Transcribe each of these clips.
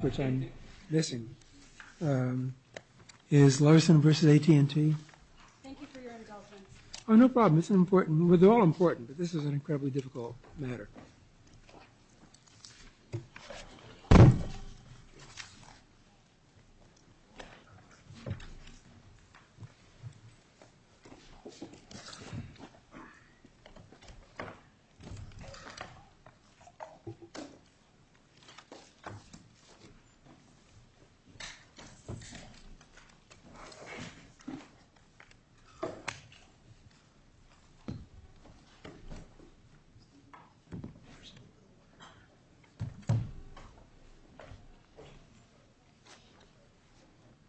which I'm missing. Is Larson vs. AT&T? Thank you for your help. Oh, no problem. It's important. This is an incredibly difficult matter.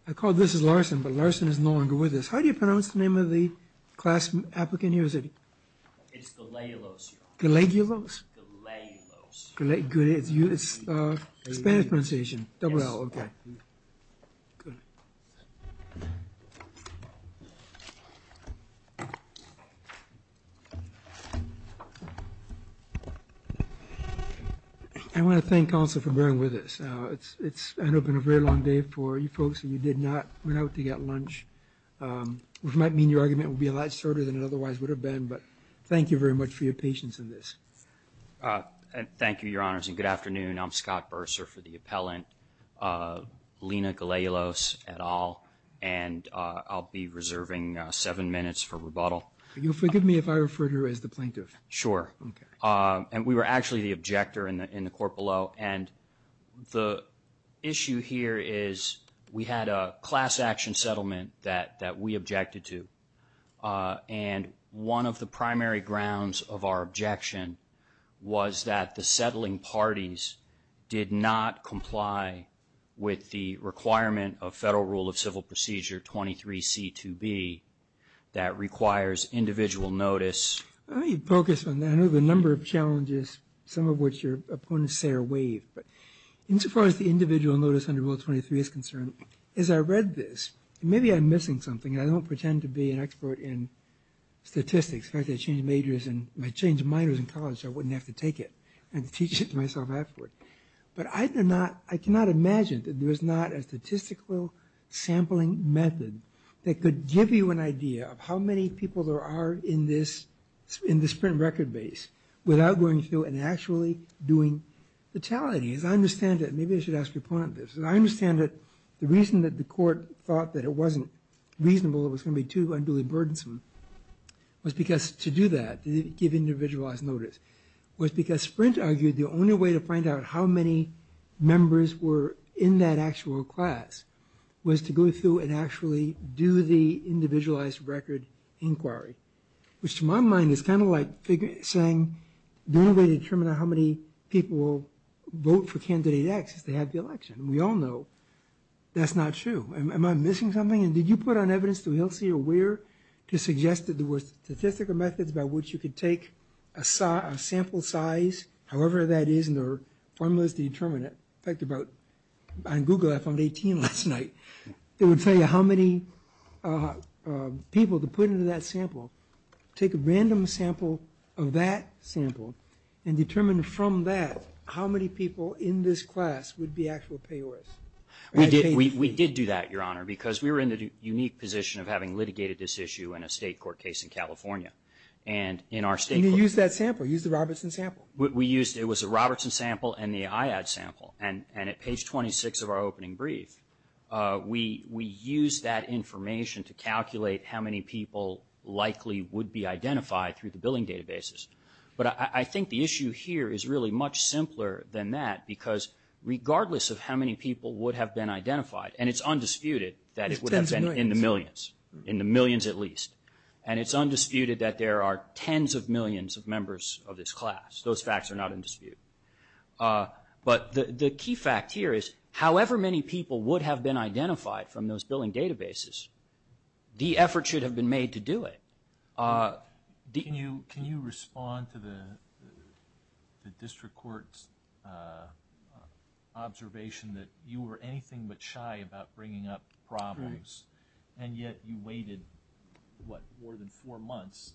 I called this Larson, but Larson is no longer with us. How do you pronounce the name of the class applicant here? It's Gallegulos. Gallegulos? Gallegulos. Gallegulos. It's a Spanish pronunciation. Double L. Okay. Good. I want to thank also for bearing with us. It's been a very long day for you folks, and you did not go out to get lunch, which might mean your argument will be a lot shorter than it otherwise would have been, but thank you very much for your patience in this. Thank you, Your Honors, and good afternoon. I'm Scott Bursar for the appellant, Lina Gallegulos et al., and I'll be reserving seven minutes for rebuttal. Can you forgive me if I refer to her as the plaintiff? Sure. Okay. And we were actually the objector in the court below, and the issue here is we had a class action settlement that we objected to, and one of the primary grounds of our objection was that the settling parties did not comply with the requirement of Federal Rule of Civil Procedure 23C2B that requires individual notice. Let me focus on that. I know there are a number of challenges, some of which your opponents say are waived, but as far as the individual notice under Rule 23 is concerned, as I read this, maybe I'm missing something, and I don't pretend to be an expert in statistics. In fact, I changed minors in college so I wouldn't have to take it and teach it to myself afterward. But I cannot imagine that there's not a statistical sampling method that could give you an idea of how many people there are in the sprint record base without going through and actually doing fatalities. I understand that. Maybe I should ask the opponent this. I understand that the reason that the court thought that it wasn't reasonable, it was going to be too unduly burdensome, was because to do that, to give individualized notice, was because sprint argued the only way to find out how many members were in that actual class was to go through and actually do the individualized record inquiry, which to my mind is kind of like saying the only way to determine how many people vote for candidate X is to have the election. And we all know that's not true. Am I missing something? And did you put on evidence to HILSEA where to suggest that there were statistical methods by which you could take a sample size, however that is, and there are formulas to determine it. In fact, on Google, I found 18 last night. It would tell you how many people to put into that sample. Take a random sample of that sample and determine from that how many people in this class would be actual payors. We did do that, Your Honor, because we were in the unique position of having litigated this issue in a state court case in California. And in our state court. And you used that sample. You used the Robertson sample. We used it. It was a Robertson sample and the IAD sample. And at page 26 of our opening brief, we used that information to calculate how many people likely would be identified through the billing databases. But I think the issue here is really much simpler than that because regardless of how many people would have been identified, and it's undisputed that it would have been in the millions, in the millions at least. And it's undisputed that there are tens of millions of members of this class. Those facts are not in dispute. But the key fact here is however many people would have been identified from those billing databases, the effort should have been made to do it. Can you respond to the district court's observation that you were anything but shy about bringing up problems, and yet you waited, what, more than four months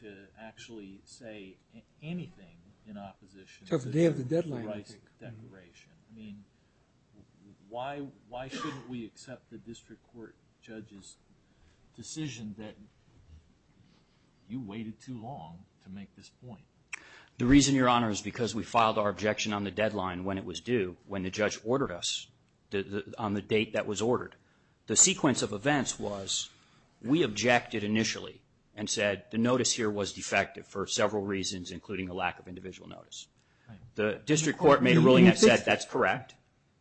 to actually say anything in opposition to the death sentence declaration? I mean, why shouldn't we accept the district court judge's decision that you waited too long to make this point? The reason, Your Honor, is because we filed our objection on the deadline when it was due, when the judge ordered us, on the date that was ordered. The sequence of events was we objected initially and said the notice here was defective for several reasons, including a lack of individual notice. The district court made a ruling that said that's correct.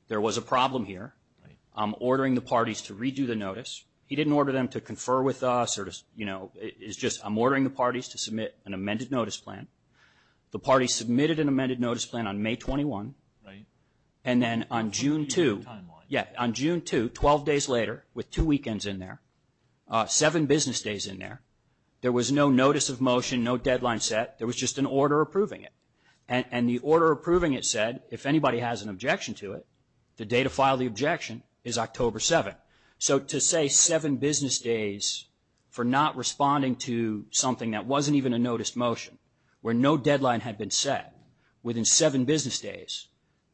There was a problem here. I'm ordering the parties to redo the notice. He didn't order them to confer with us or, you know, it's just I'm ordering the parties to submit an amended notice plan. The parties submitted an amended notice plan on May 21. And then on June 2, yeah, on June 2, 12 days later, with two weekends in there, seven business days in there, there was no notice of motion, no deadline set. There was just an order approving it. And the order approving it said if anybody has an objection to it, the day to file the objection is October 7. So to say seven business days for not responding to something that wasn't even a notice motion, where no deadline had been set within seven business days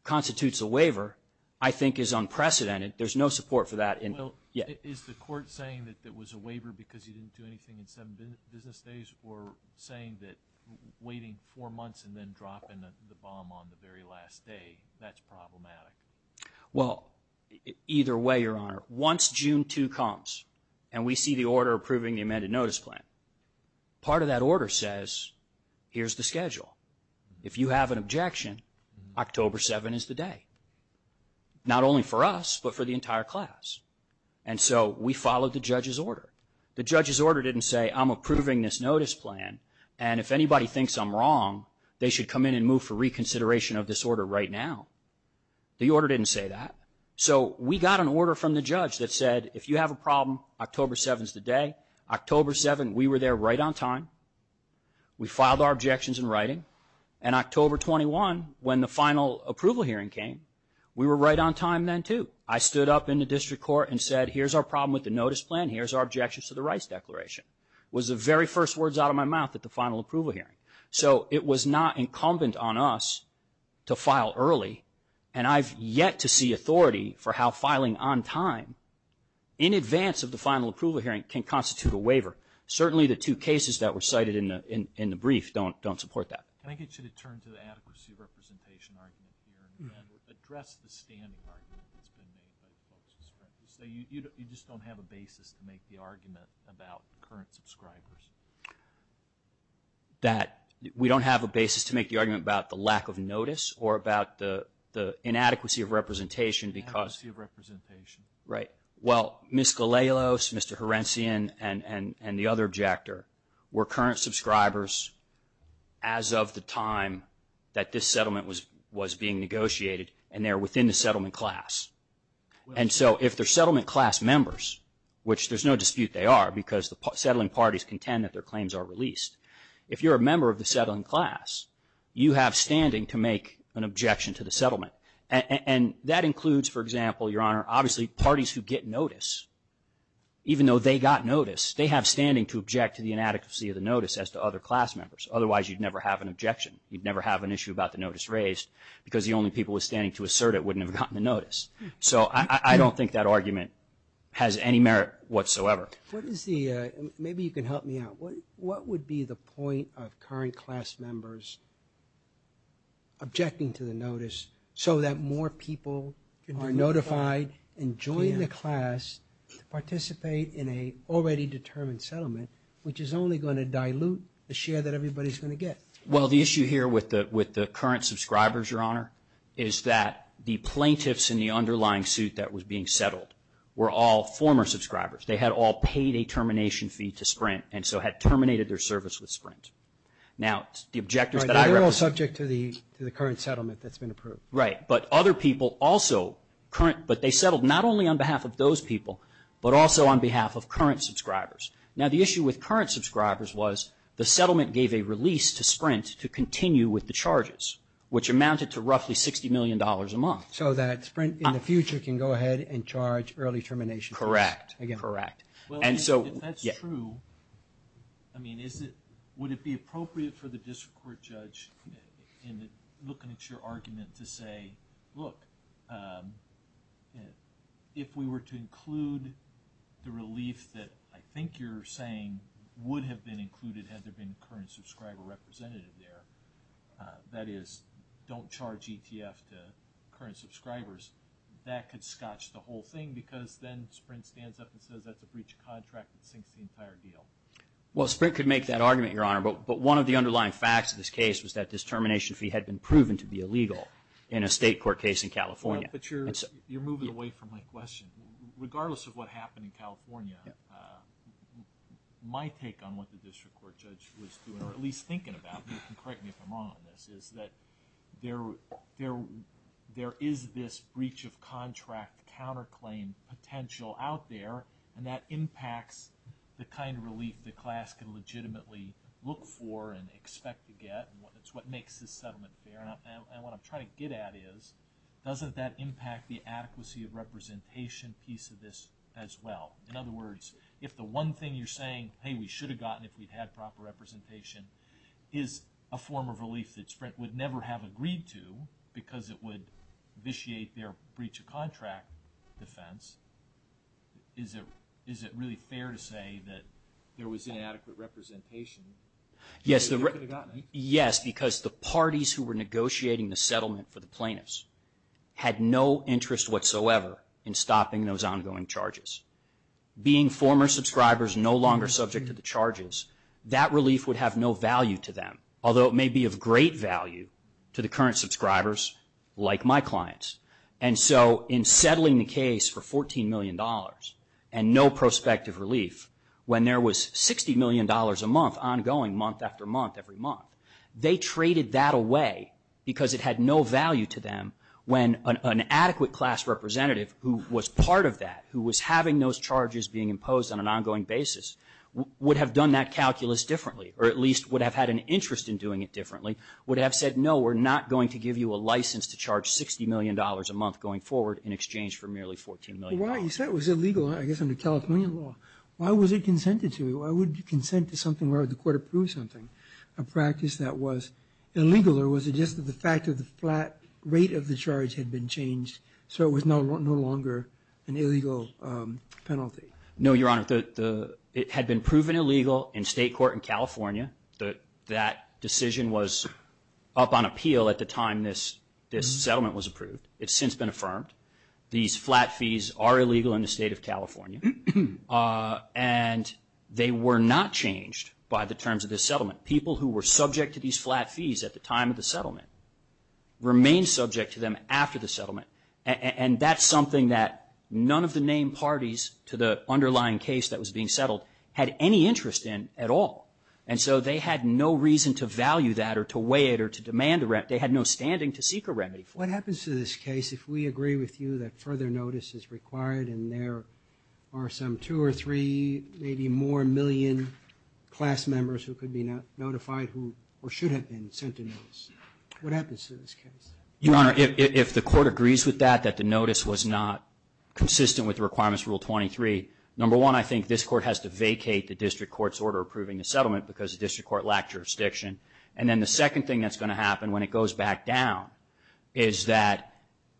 constitutes a waiver, I think is unprecedented. There's no support for that. Well, is the court saying that it was a waiver because he didn't do anything in seven business days or saying that waiting four months and then dropping the bomb on the very last day, that's problematic? Well, either way, Your Honor, once June 2 comes and we see the order approving the amended notice plan, part of that order says here's the schedule. If you have an objection, October 7 is the day, not only for us but for the entire class. And so we followed the judge's order. The judge's order didn't say I'm approving this notice plan, and if anybody thinks I'm wrong, they should come in and move for reconsideration of this order right now. The order didn't say that. So we got an order from the judge that said if you have a problem, October 7 is the day. October 7, we were there right on time. We filed our objections in writing. And October 21, when the final approval hearing came, we were right on time then too. I stood up in the district court and said here's our problem with the notice plan, here's our objections to the rights declaration. It was the very first words out of my mouth at the final approval hearing. So it was not incumbent on us to file early, and I've yet to see authority for how filing on time, in advance of the final approval hearing, can constitute a waiver. Certainly the two cases that were cited in the brief don't support that. Can I get you to turn to the adequacy of representation argument here and address the standpoint? So you just don't have a basis to make the argument about current subscribers? We don't have a basis to make the argument about the lack of notice or about the inadequacy of representation because – Inadequacy of representation. Right. Well, Ms. Galelos, Mr. Horencian, and the other objector were current subscribers as of the time that this settlement was being negotiated, and they're within the settlement class. And so if they're settlement class members, which there's no dispute they are because the settling parties contend that their claims are released. If you're a member of the settling class, you have standing to make an objection to the settlement. And that includes, for example, Your Honor, obviously parties who get notice, even though they got notice, they have standing to object to the inadequacy of the notice as to other class members. Otherwise, you'd never have an objection. You'd never have an issue about the notice raised because the only people with standing to assert it wouldn't have gotten the notice. So I don't think that argument has any merit whatsoever. Let me see. Maybe you can help me out. What would be the point of current class members objecting to the notice so that more people can be notified and join the class to participate in an already determined settlement, which is only going to dilute the share that everybody's going to get? Well, the issue here with the current subscribers, Your Honor, is that the plaintiffs in the underlying suit that was being settled were all former subscribers. They had all paid a termination fee to Sprint and so had terminated their service with Sprint. Now, the objectors that I represent. They're all subject to the current settlement that's been approved. Right, but other people also, but they settled not only on behalf of those people, but also on behalf of current subscribers. Now, the issue with current subscribers was the settlement gave a release to Sprint to continue with the charges, which amounted to roughly $60 million a month. So that Sprint in the future can go ahead and charge early termination. Correct, correct. Well, if that's true, I mean, would it be appropriate for the district court judge in looking at your argument to say, look, if we were to include the relief that I think you're saying would have been included had there been a current subscriber representative there, that is, don't charge ETF to current subscribers, that could scotch the whole thing because then Sprint stands up and says that's a breach of contract that sinks the entire deal. Well, Sprint could make that argument, Your Honor, but one of the underlying facts of this case was that this termination fee had been proven to be illegal in a state court case in California. But you're moving away from my question. Regardless of what happened in California, my take on what the district court judge was doing, at least thinking about this, and correct me if I'm wrong on this, is that there is this breach of contract counterclaim potential out there, and that impacts the kind of relief the class can legitimately look for and expect to get, and it's what makes this settlement fair. And what I'm trying to get at is doesn't that impact the adequacy of representation piece of this as well? In other words, if the one thing you're saying, hey, we should have gotten if we'd had proper representation, is a form of relief that Sprint would never have agreed to because it would vitiate their breach of contract defense, is it really fair to say that there was inadequate representation? Yes, because the parties who were negotiating the settlement for the plaintiffs had no interest whatsoever in stopping those ongoing charges. Being former subscribers no longer subject to the charges, that relief would have no value to them, although it may be of great value to the current subscribers like my clients. And so in settling the case for $14 million and no prospective relief, when there was $60 million a month ongoing, month after month every month, they traded that away because it had no value to them when an adequate class representative who was part of that, who was having those charges being imposed on an ongoing basis, would have done that calculus differently, or at least would have had an interest in doing it differently, would have said, no, we're not going to give you a license to charge $60 million a month going forward in exchange for merely $14 million. Well, you said it was illegal, I guess under California law. Why was it consented to? I would consent to something where the court approved something. A practice that was illegal, or was it just the fact that the flat rate of the charge had been changed so it was no longer an illegal penalty? No, Your Honor. It had been proven illegal in state court in California. That decision was up on appeal at the time this settlement was approved. It's since been affirmed. These flat fees are illegal in the state of California. And they were not changed by the terms of this settlement. People who were subject to these flat fees at the time of the settlement remained subject to them after the settlement. And that's something that none of the named parties to the underlying case that was being settled had any interest in at all. And so they had no reason to value that or to weigh it or to demand the remedy. They had no standing to seek a remedy. What happens to this case if we agree with you that further notice is required and there are some two or three, maybe more, million class members who could be notified or should have been sent a notice? What happens to this case? Your Honor, if the court agrees with that, that the notice was not consistent with the requirements of Rule 23, number one, I think this court has to vacate the district court's order approving the settlement because the district court lacked jurisdiction. And then the second thing that's going to happen when it goes back down is that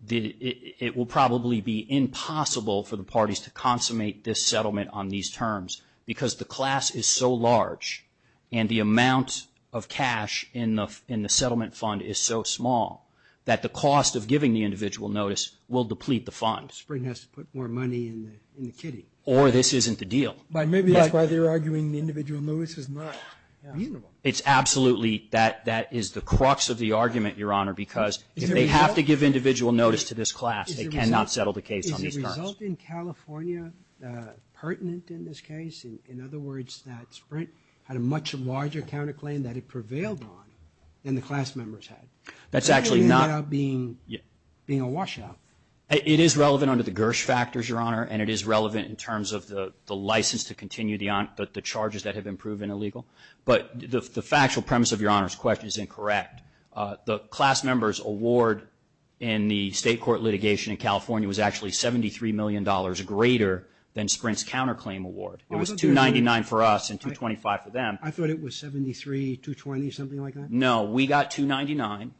it will probably be impossible for the parties to consummate this settlement on these terms because the class is so large and the amount of cash in the settlement fund is so small that the cost of giving the individual notice will deplete the funds. Spring has to put more money in the kitty. Or this isn't the deal. Maybe that's why they're arguing the individual notice is not reasonable. It's absolutely that is the crux of the argument, Your Honor, because if they have to give individual notice to this class, they cannot settle the case on these terms. Is the result in California pertinent in this case? In other words, that Sprint had a much larger counterclaim that it prevailed on than the class members had. That's actually not being a washout. It is relevant under the Gersh factors, Your Honor, and it is relevant in terms of the license to continue the charges that have been proven illegal. But the factual premise of Your Honor's question is incorrect. The class members' award in the state court litigation in California was actually $73 million greater than Sprint's counterclaim award. It was $299 for us and $225 for them. I thought it was $73, $220, something like that. No, we got $299.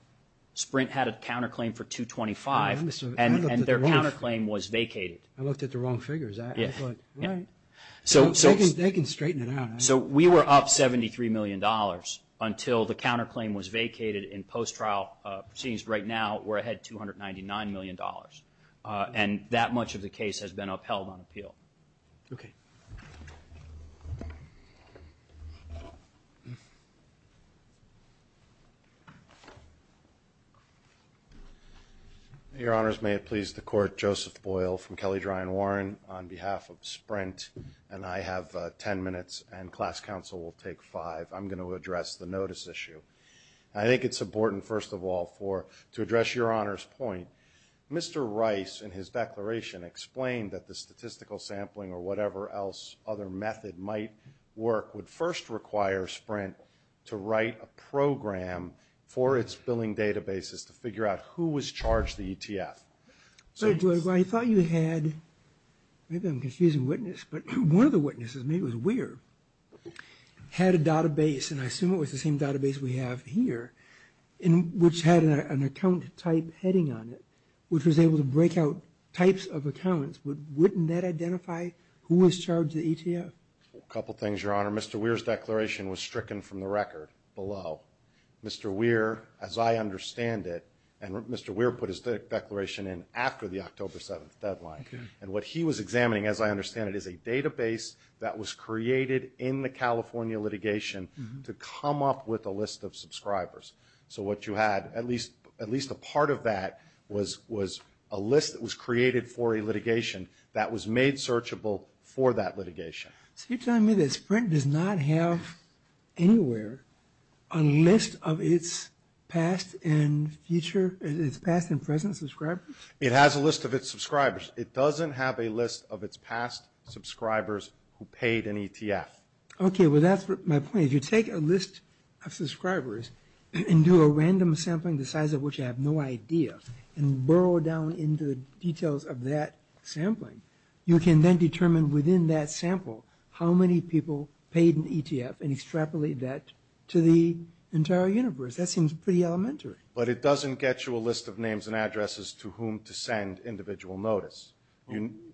Sprint had a counterclaim for $225, and their counterclaim was vacated. I looked at the wrong figures. They can straighten it out. So we were up $73 million until the counterclaim was vacated. In post-trial proceedings right now, we're ahead $299 million, and that much of the case has been upheld on appeal. Okay. Your Honors, may it please the Court, Joseph Boyle from Kelly, Dry and Warren, on behalf of Sprint, and I have 10 minutes, and class counsel will take five. I'm going to address the notice issue. I think it's important, first of all, to address Your Honor's point. Mr. Rice, in his declaration, explained that the statistical sampling or whatever else other method might work would first require Sprint to write a program for its billing databases to figure out who was charged the ETF. So, Joseph, I thought you had, maybe I'm confusing witness, but one of the witnesses to me was Weir, had a database, and I assume it was the same database we have here, which had an account type heading on it, which was able to break out types of accounts, but wouldn't that identify who was charged the ETF? A couple things, Your Honor. Mr. Weir's declaration was stricken from the record below. Mr. Weir, as I understand it, and Mr. Weir put his declaration in after the October 7th deadline, and what he was examining, as I understand it, is a database that was created in the California litigation to come up with a list of subscribers. So what you had, at least a part of that, was a list that was created for a litigation that was made searchable for that litigation. So you're telling me that Sprint does not have anywhere a list of its past and future, its past and present subscribers? It has a list of its subscribers. It doesn't have a list of its past subscribers who paid an ETF. Okay, well that's my point. If you take a list of subscribers and do a random sampling the size of which I have no idea, and burrow down into the details of that sampling, you can then determine within that sample how many people paid an ETF and extrapolate that to the entire universe. That seems pretty elementary. But it doesn't get you a list of names and addresses to whom to send individual notes.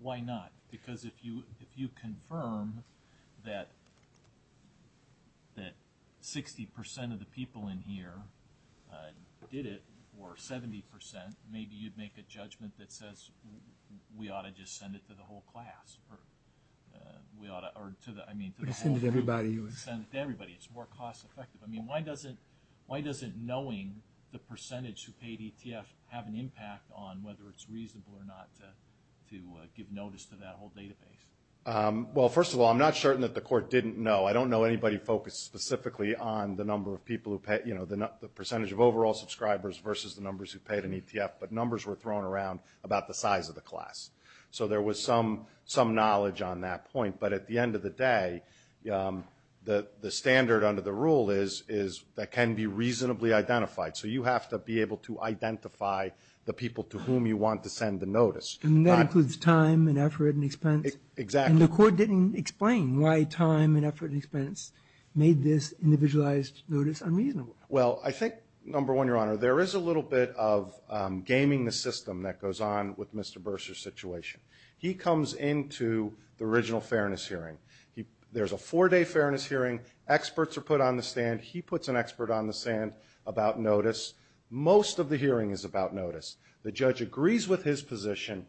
Why not? Because if you confirm that 60% of the people in here did it, or 70%, maybe you'd make a judgment that says we ought to just send it to the whole class. We ought to send it to everybody. It's more cost effective. Why doesn't knowing the percentage who paid ETF have an impact on whether it's reasonable or not to give notice to that whole database? Well, first of all, I'm not certain that the court didn't know. I don't know anybody focused specifically on the number of people who paid, the percentage of overall subscribers versus the numbers who paid an ETF, but numbers were thrown around about the size of the class. So there was some knowledge on that point. But at the end of the day, the standard under the rule is that can be reasonably identified. So you have to be able to identify the people to whom you want to send a notice. And that includes time and effort and expense? Exactly. And the court didn't explain why time and effort and expense made this individualized notice unreasonable. Well, I think, number one, Your Honor, there is a little bit of gaming the system that goes on with Mr. Bursar's situation. He comes into the original fairness hearing. There's a four-day fairness hearing. Experts are put on the stand. He puts an expert on the stand about notice. Most of the hearing is about notice. The judge agrees with his position,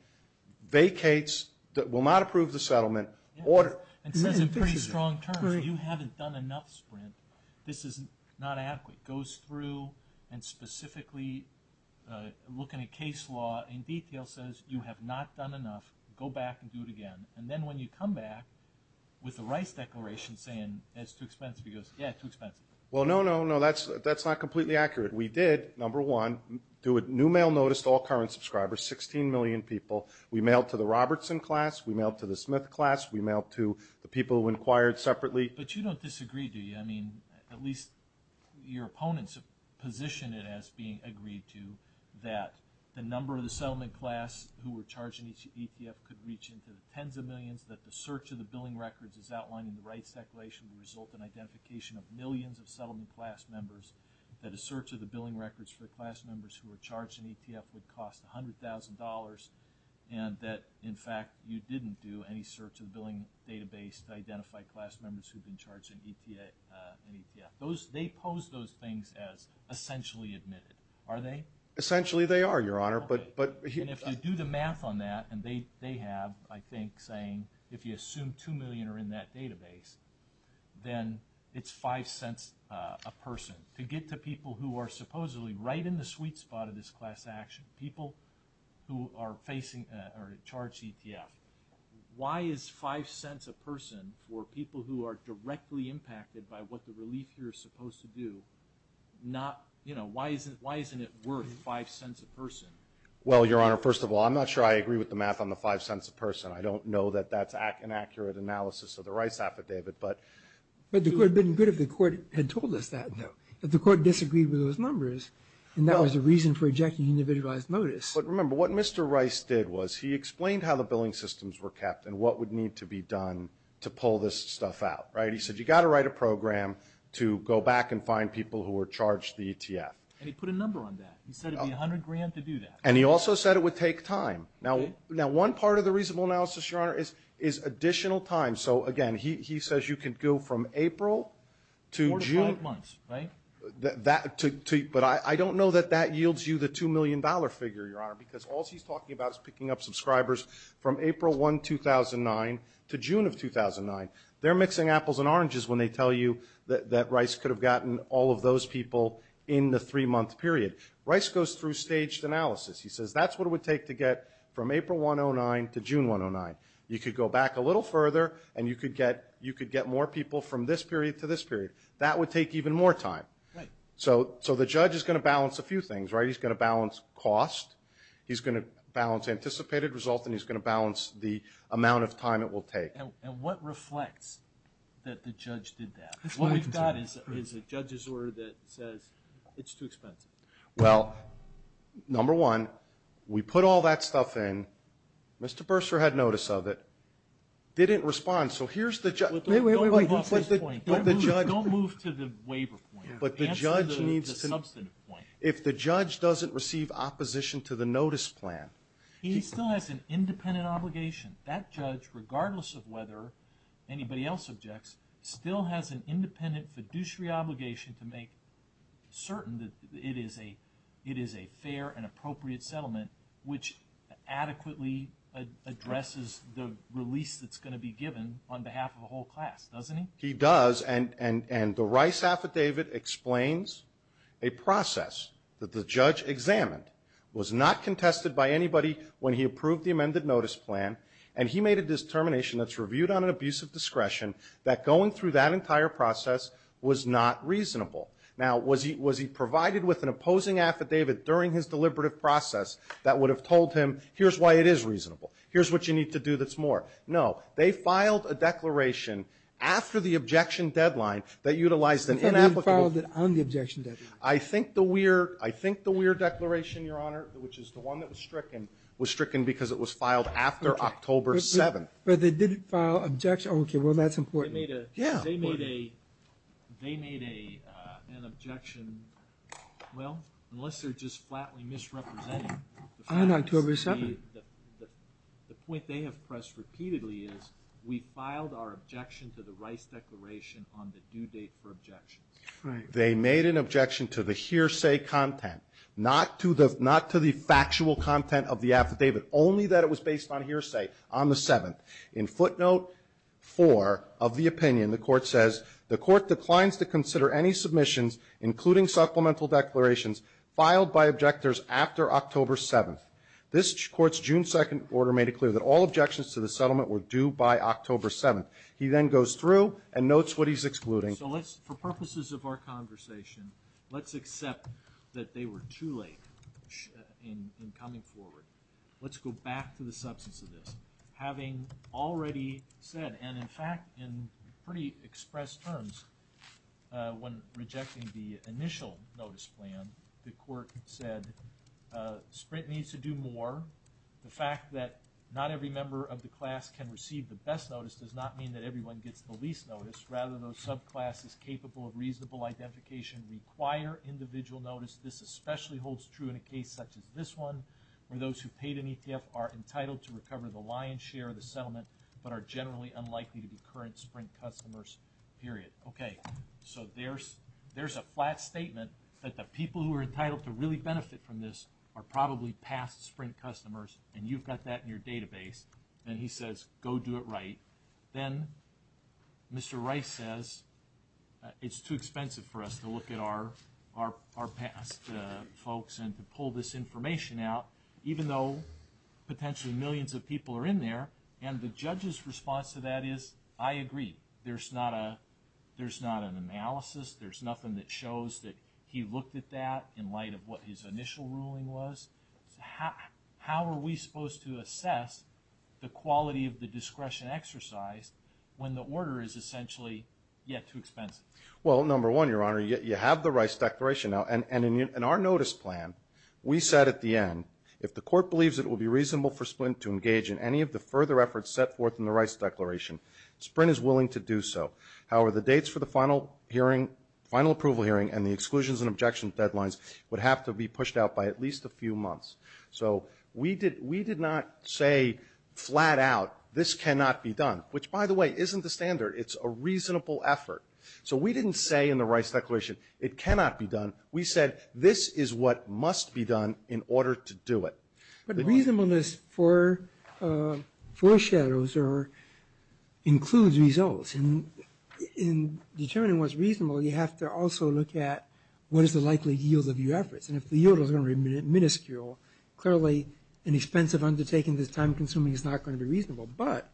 vacates, will not approve the settlement. And that's a pretty strong term. If you haven't done enough sprint, this is not adequate. It goes through and specifically, looking at case law in detail, says you have not done enough. Go back and do it again. And then when you come back with the right declaration saying it's too expensive, he goes, yeah, it's too expensive. Well, no, no, no, that's not completely accurate. We did, number one, do a new mail notice to all current subscribers, 16 million people. We mailed to the Robertson class. We mailed to the Smith class. But you don't disagree, do you? I mean, at least your opponents have positioned it as being agreed to, that the number of the settlement class who were charged in ETF could reach into the tens of millions, that the search of the billing records as outlined in the rights declaration would result in identification of millions of settlement class members, that a search of the billing records for class members who were charged in ETF would cost $100,000, and that, in fact, you didn't do any search of billing database to identify class members who've been charged in ETF. They pose those things as essentially admitted, are they? Essentially they are, Your Honor. And if you do the math on that, and they have, I think, saying, if you assume two million are in that database, then it's five cents a person. To get to people who are supposedly right in the sweet spot of this class action, people who are facing or charged ETF, why is five cents a person for people who are directly impacted by what the relief here is supposed to do, why isn't it worth five cents a person? Well, Your Honor, first of all, I'm not sure I agree with the math on the five cents a person. I don't know that that's an accurate analysis of the Rice affidavit. But it would have been good if the court had told us that, though, if the court disagreed with those numbers, and that was the reason for ejecting individualized notice. But remember, what Mr. Rice did was he explained how the billing systems were kept and what would need to be done to pull this stuff out, right? He said you've got to write a program to go back and find people who are charged the ETF. And he put a number on that. He said it would be 100 grand to do that. And he also said it would take time. Now, one part of the reasonable analysis, Your Honor, is additional time. So, again, he says you can go from April to June. More than five months, right? But I don't know that that yields you the $2 million figure, Your Honor, because all she's talking about is picking up subscribers from April 1, 2009 to June of 2009. They're mixing apples and oranges when they tell you that Rice could have gotten all of those people in the three-month period. Rice goes through staged analysis. He says that's what it would take to get from April 109 to June 109. You could go back a little further, and you could get more people from this period to this period. That would take even more time. So the judge is going to balance a few things, right? He's going to balance anticipated result, and he's going to balance the amount of time it will take. And what reflects that the judge did that? What he's got is a judge's order that says it's too expensive. Well, number one, we put all that stuff in. Mr. Bursar had notice of it. They didn't respond. So here's the judge. Wait, wait, wait. Don't move to the waiver point. Answer the substantive point. If the judge doesn't receive opposition to the notice plan. He still has an independent obligation. That judge, regardless of whether anybody else objects, still has an independent fiduciary obligation to make certain that it is a fair and appropriate settlement which adequately addresses the release that's going to be given on behalf of the whole class, doesn't he? He does. And the Rice Affidavit explains a process that the judge examined, was not contested by anybody when he approved the amended notice plan, and he made a determination that's reviewed on an abuse of discretion, that going through that entire process was not reasonable. Now, was he provided with an opposing affidavit during his deliberative process that would have told him, here's why it is reasonable. Here's what you need to do that's more. No. They filed a declaration after the objection deadline that utilized an inapplicable. They filed it on the objection deadline. I think the Weir Declaration, Your Honor, which is the one that was stricken, was stricken because it was filed after October 7th. But they didn't file an objection. Okay, well, that's important. They made an objection, well, unless they're just flatly misrepresenting. On October 7th. The point they have pressed repeatedly is, we filed our objection to the Rice Declaration on the due date for objection. Right. They made an objection to the hearsay content, not to the factual content of the affidavit, only that it was based on hearsay on the 7th. In footnote 4 of the opinion, the Court says, the Court declines to consider any submissions, including supplemental declarations, filed by objectors after October 7th. This Court's June 2nd order made it clear that all objections to the settlement were due by October 7th. He then goes through and notes what he's excluding. So let's, for purposes of our conversation, let's accept that they were too late in coming forward. Let's go back to the substance of this. Having already said, and, in fact, in pretty express terms, when rejecting the initial notice plan, the Court said, Sprint needs to do more. The fact that not every member of the class can receive the best notice does not mean that everyone gets the least notice. Rather, those subclasses capable of reasonable identification require individual notice. This especially holds true in a case such as this one, where those who paid an ETF are entitled to recover the lion's share of the settlement, but are generally unlikely to be current Sprint customers, period. Okay, so there's a flat statement that the people who are entitled to really benefit from this are probably past Sprint customers, and you've got that in your database. Then he says, go do it right. Then Mr. Rice says, it's too expensive for us to look at our past folks and to pull this information out, even though potentially millions of people are in there. And the judge's response to that is, I agree. There's not an analysis. There's nothing that shows that he looked at that in light of what his initial ruling was. How are we supposed to assess the quality of the discretion exercise when the order is essentially, yeah, too expensive? Well, number one, Your Honor, you have the Rice Declaration now. And in our notice plan, we said at the end, if the court believes it will be reasonable for Sprint to engage in any of the further efforts set forth in the Rice Declaration, Sprint is willing to do so. However, the dates for the final hearing, final approval hearing, and the exclusions and objections deadlines would have to be pushed out by at least a few months. So we did not say flat out, this cannot be done, which, by the way, isn't the standard. It's a reasonable effort. So we didn't say in the Rice Declaration, it cannot be done. We said this is what must be done in order to do it. But the reason for this foreshadows or includes results. And in determining what's reasonable, you have to also look at what is the likely yield of your efforts. And if the yield is only minuscule, clearly an expensive undertaking that's time-consuming is not going to be reasonable. But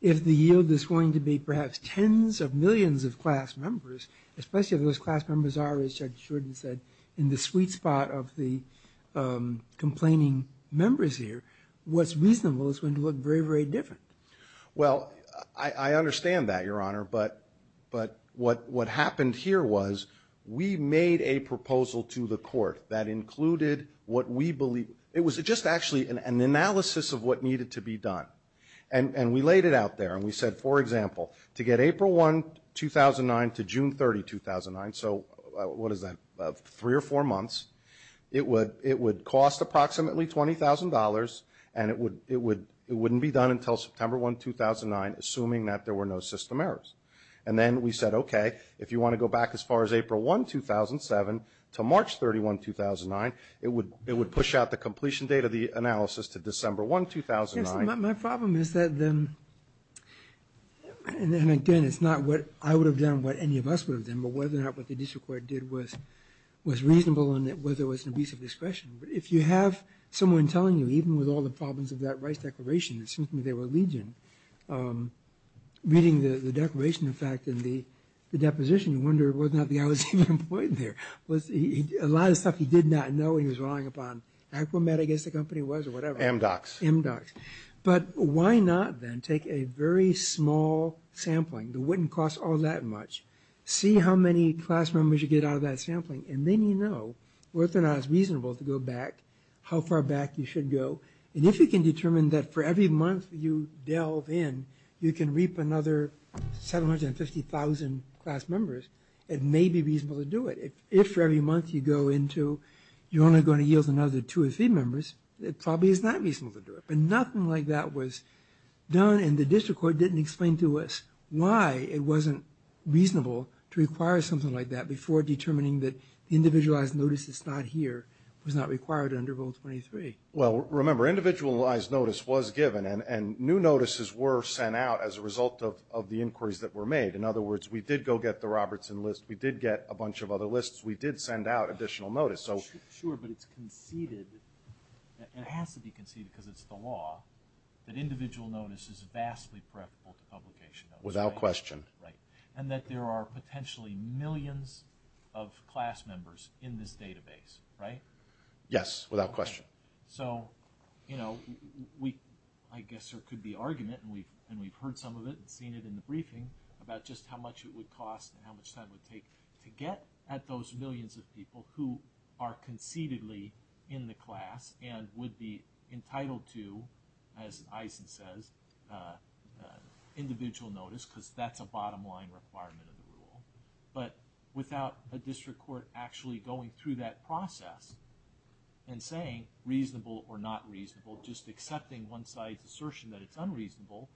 if the yield is going to be perhaps tens of millions of class members, especially if those class members are, as Judge Jordan said, in the sweet spot of the complaining members here, what's reasonable is going to look very, very different. Well, I understand that, Your Honor. But what happened here was we made a proposal to the court that included what we believed. It was just actually an analysis of what needed to be done. And we laid it out there, and we said, for example, to get April 1, 2009, to June 30, 2009, so what is that, three or four months, it would cost approximately $20,000, and it wouldn't be done until September 1, 2009, assuming that there were no system errors. And then we said, okay, if you want to go back as far as April 1, 2007, to March 31, 2009, it would push out the completion date of the analysis to December 1, 2009. My problem is that, and again, it's not what I would have done, what any of us would have done, but whether or not what the district court did was reasonable and whether it was an abuse of discretion. But if you have someone telling you, even with all the problems of that rights declaration, assuming they were legion, reading the declaration, in fact, and the deposition, you wonder whether or not the guy was even employed there. A lot of stuff he did not know he was relying upon. I guess the company was or whatever. Amdocs. But why not then take a very small sampling that wouldn't cost all that much, see how many class members you get out of that sampling, and then you know whether or not it's reasonable to go back, how far back you should go, and if you can determine that for every month you delve in, you can reap another 750,000 class members, it may be reasonable to do it. If every month you go into, you're only going to yield another two or three members, it probably is not reasonable to do it. And nothing like that was done, and the district court didn't explain to us why it wasn't reasonable to require something like that before determining that individualized notice that's not here was not required under Rule 23. Well, remember, individualized notice was given, and new notices were sent out as a result of the inquiries that were made. In other words, we did go get the Robertson list. We did get a bunch of other lists. We did send out additional notice. Sure, but it's conceded, it has to be conceded because it's the law, that individual notice is vastly preferable to publication notice. Without question. And that there are potentially millions of class members in this database, right? Yes, without question. So, you know, I guess there could be argument, and we've heard some of it, and we've seen it in the briefing, about just how much it would cost and how much time it would take to get at those millions of people who are concededly in the class and would be entitled to, as Eisen says, individual notice because that's a bottom line requirement of the rule. But without the district court actually going through that process and saying reasonable or not reasonable, just accepting one side's assertion that it's unreasonable,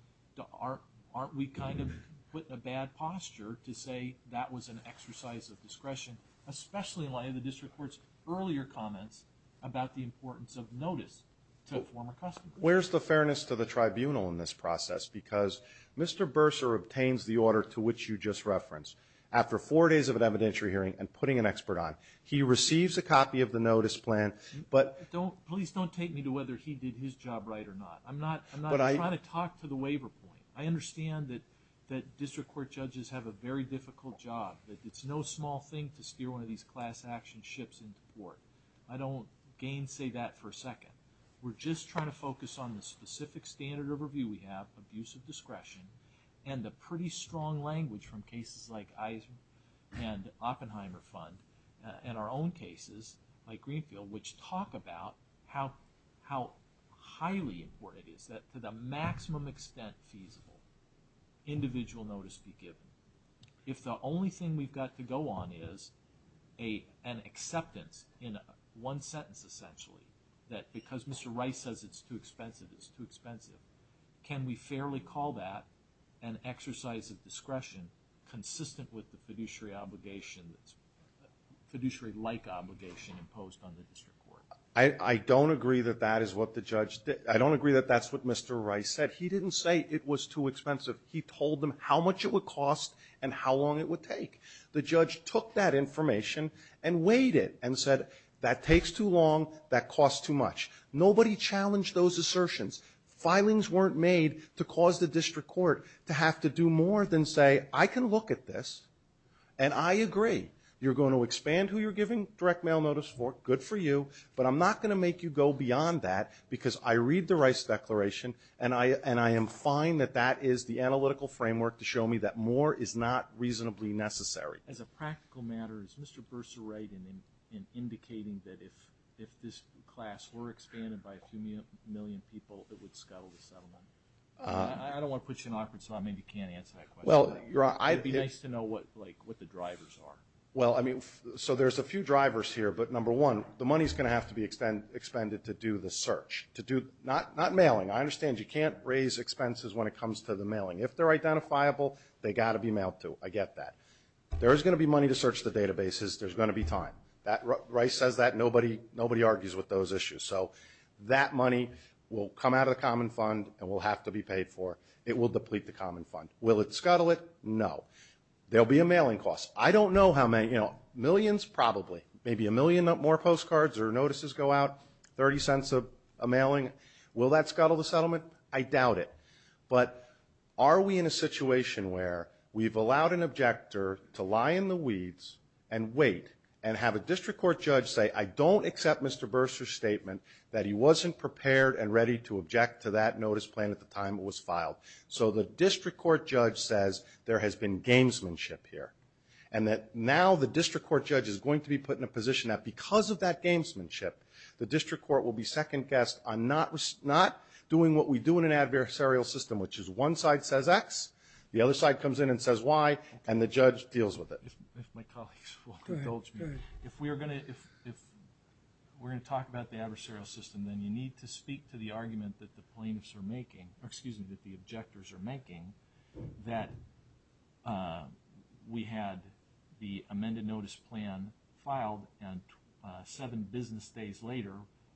aren't we kind of put in a bad posture to say that was an exercise of discretion, especially in light of the district court's earlier comments about the importance of notice to a former customer? Where's the fairness to the tribunal in this process? Because Mr. Bursar obtains the order to which you just referenced. After four days of an evidentiary hearing and putting an expert on, he receives a copy of the notice plan, but – Please don't take me to whether he did his job right or not. I'm not trying to talk to the waiver point. I understand that district court judges have a very difficult job. It's no small thing to steer one of these class action ships into court. I don't gainsay that for a second. We're just trying to focus on the specific standard of review we have, abuse of discretion, and the pretty strong language from cases like Eisen and Oppenheimer Fund and our own cases like Greenfield, which talk about how highly important it is that, to the maximum extent feasible, individual notice be given. If the only thing we've got to go on is an acceptance in one sentence, essentially, that because Mr. Rice says it's too expensive, it's too expensive, consistent with the fiduciary-like obligation imposed on the district court. I don't agree that that is what the judge – I don't agree that that's what Mr. Rice said. He didn't say it was too expensive. He told them how much it would cost and how long it would take. The judge took that information and weighed it and said, that takes too long, that costs too much. Nobody challenged those assertions. Filings weren't made to cause the district court to have to do more than say, I can look at this and I agree. You're going to expand who you're giving direct mail notice for, good for you, but I'm not going to make you go beyond that because I read the Rice declaration and I am fine that that is the analytical framework to show me that more is not reasonably necessary. As a practical matter, is Mr. Bursa right in indicating that if this class were expanded I don't want to put you in an awkward spot. Maybe you can't answer that question. It would be nice to know what the drivers are. There's a few drivers here, but number one, the money is going to have to be expended to do the search, not mailing. I understand you can't raise expenses when it comes to the mailing. If they're identifiable, they've got to be mailed to. I get that. There is going to be money to search the databases. There's going to be time. Rice says that. Nobody argues with those issues. So that money will come out of the common fund and will have to be paid for. It will deplete the common fund. Will it scuttle it? No. There will be a mailing cost. I don't know how many. Millions? Probably. Maybe a million more postcards or notices go out, 30 cents a mailing. Will that scuttle the settlement? I doubt it. But are we in a situation where we've allowed an objector to lie in the weeds and have a district court judge say, I don't accept Mr. Bursch's statement that he wasn't prepared and ready to object to that notice plan at the time it was filed. So the district court judge says there has been gamesmanship here, and that now the district court judge is going to be put in a position that because of that gamesmanship, the district court will be second-guessed. I'm not doing what we do in an adversarial system, which is one side says X, the other side comes in and says Y, and the judge deals with it. If my colleagues will indulge me, if we're going to talk about the adversarial system, then you need to speak to the argument that the plaintiffs are making, or excuse me, that the objectors are making, that we had the amended notice plan filed, and seven business days later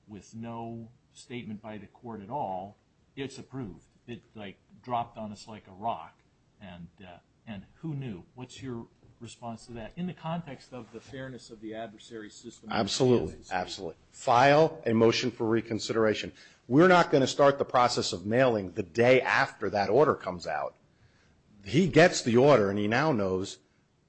with no statement by the court at all, it's approved. It, like, dropped on us like a rock. And who knew? What's your response to that in the context of the fairness of the adversary system? Absolutely. Absolutely. File a motion for reconsideration. We're not going to start the process of mailing the day after that order comes out. He gets the order, and he now knows,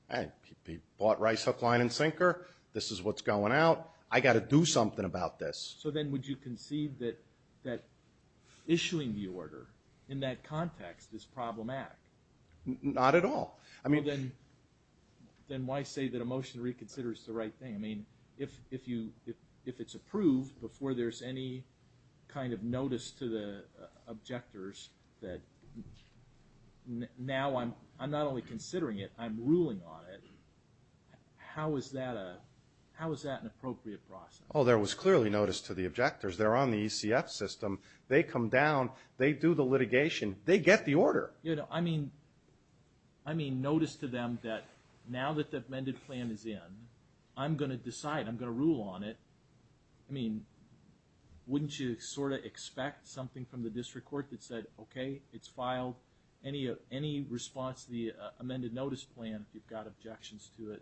hey, he bought Rice, Hook, Line, and Sinker. This is what's going out. I've got to do something about this. So then would you concede that issuing the order in that context is problematic? Not at all. Then why say that a motion to reconsider is the right thing? I mean, if it's approved before there's any kind of notice to the objectors that now I'm not only considering it, I'm ruling on it, how is that an appropriate process? Oh, there was clearly notice to the objectors. They're on the ECF system. They come down. They do the litigation. They get the order. I mean, notice to them that now that the amended plan is in, I'm going to decide. I'm going to rule on it. I mean, wouldn't you sort of expect something from the district court that said, okay, it's filed. Any response to the amended notice plan, if you've got objections to it,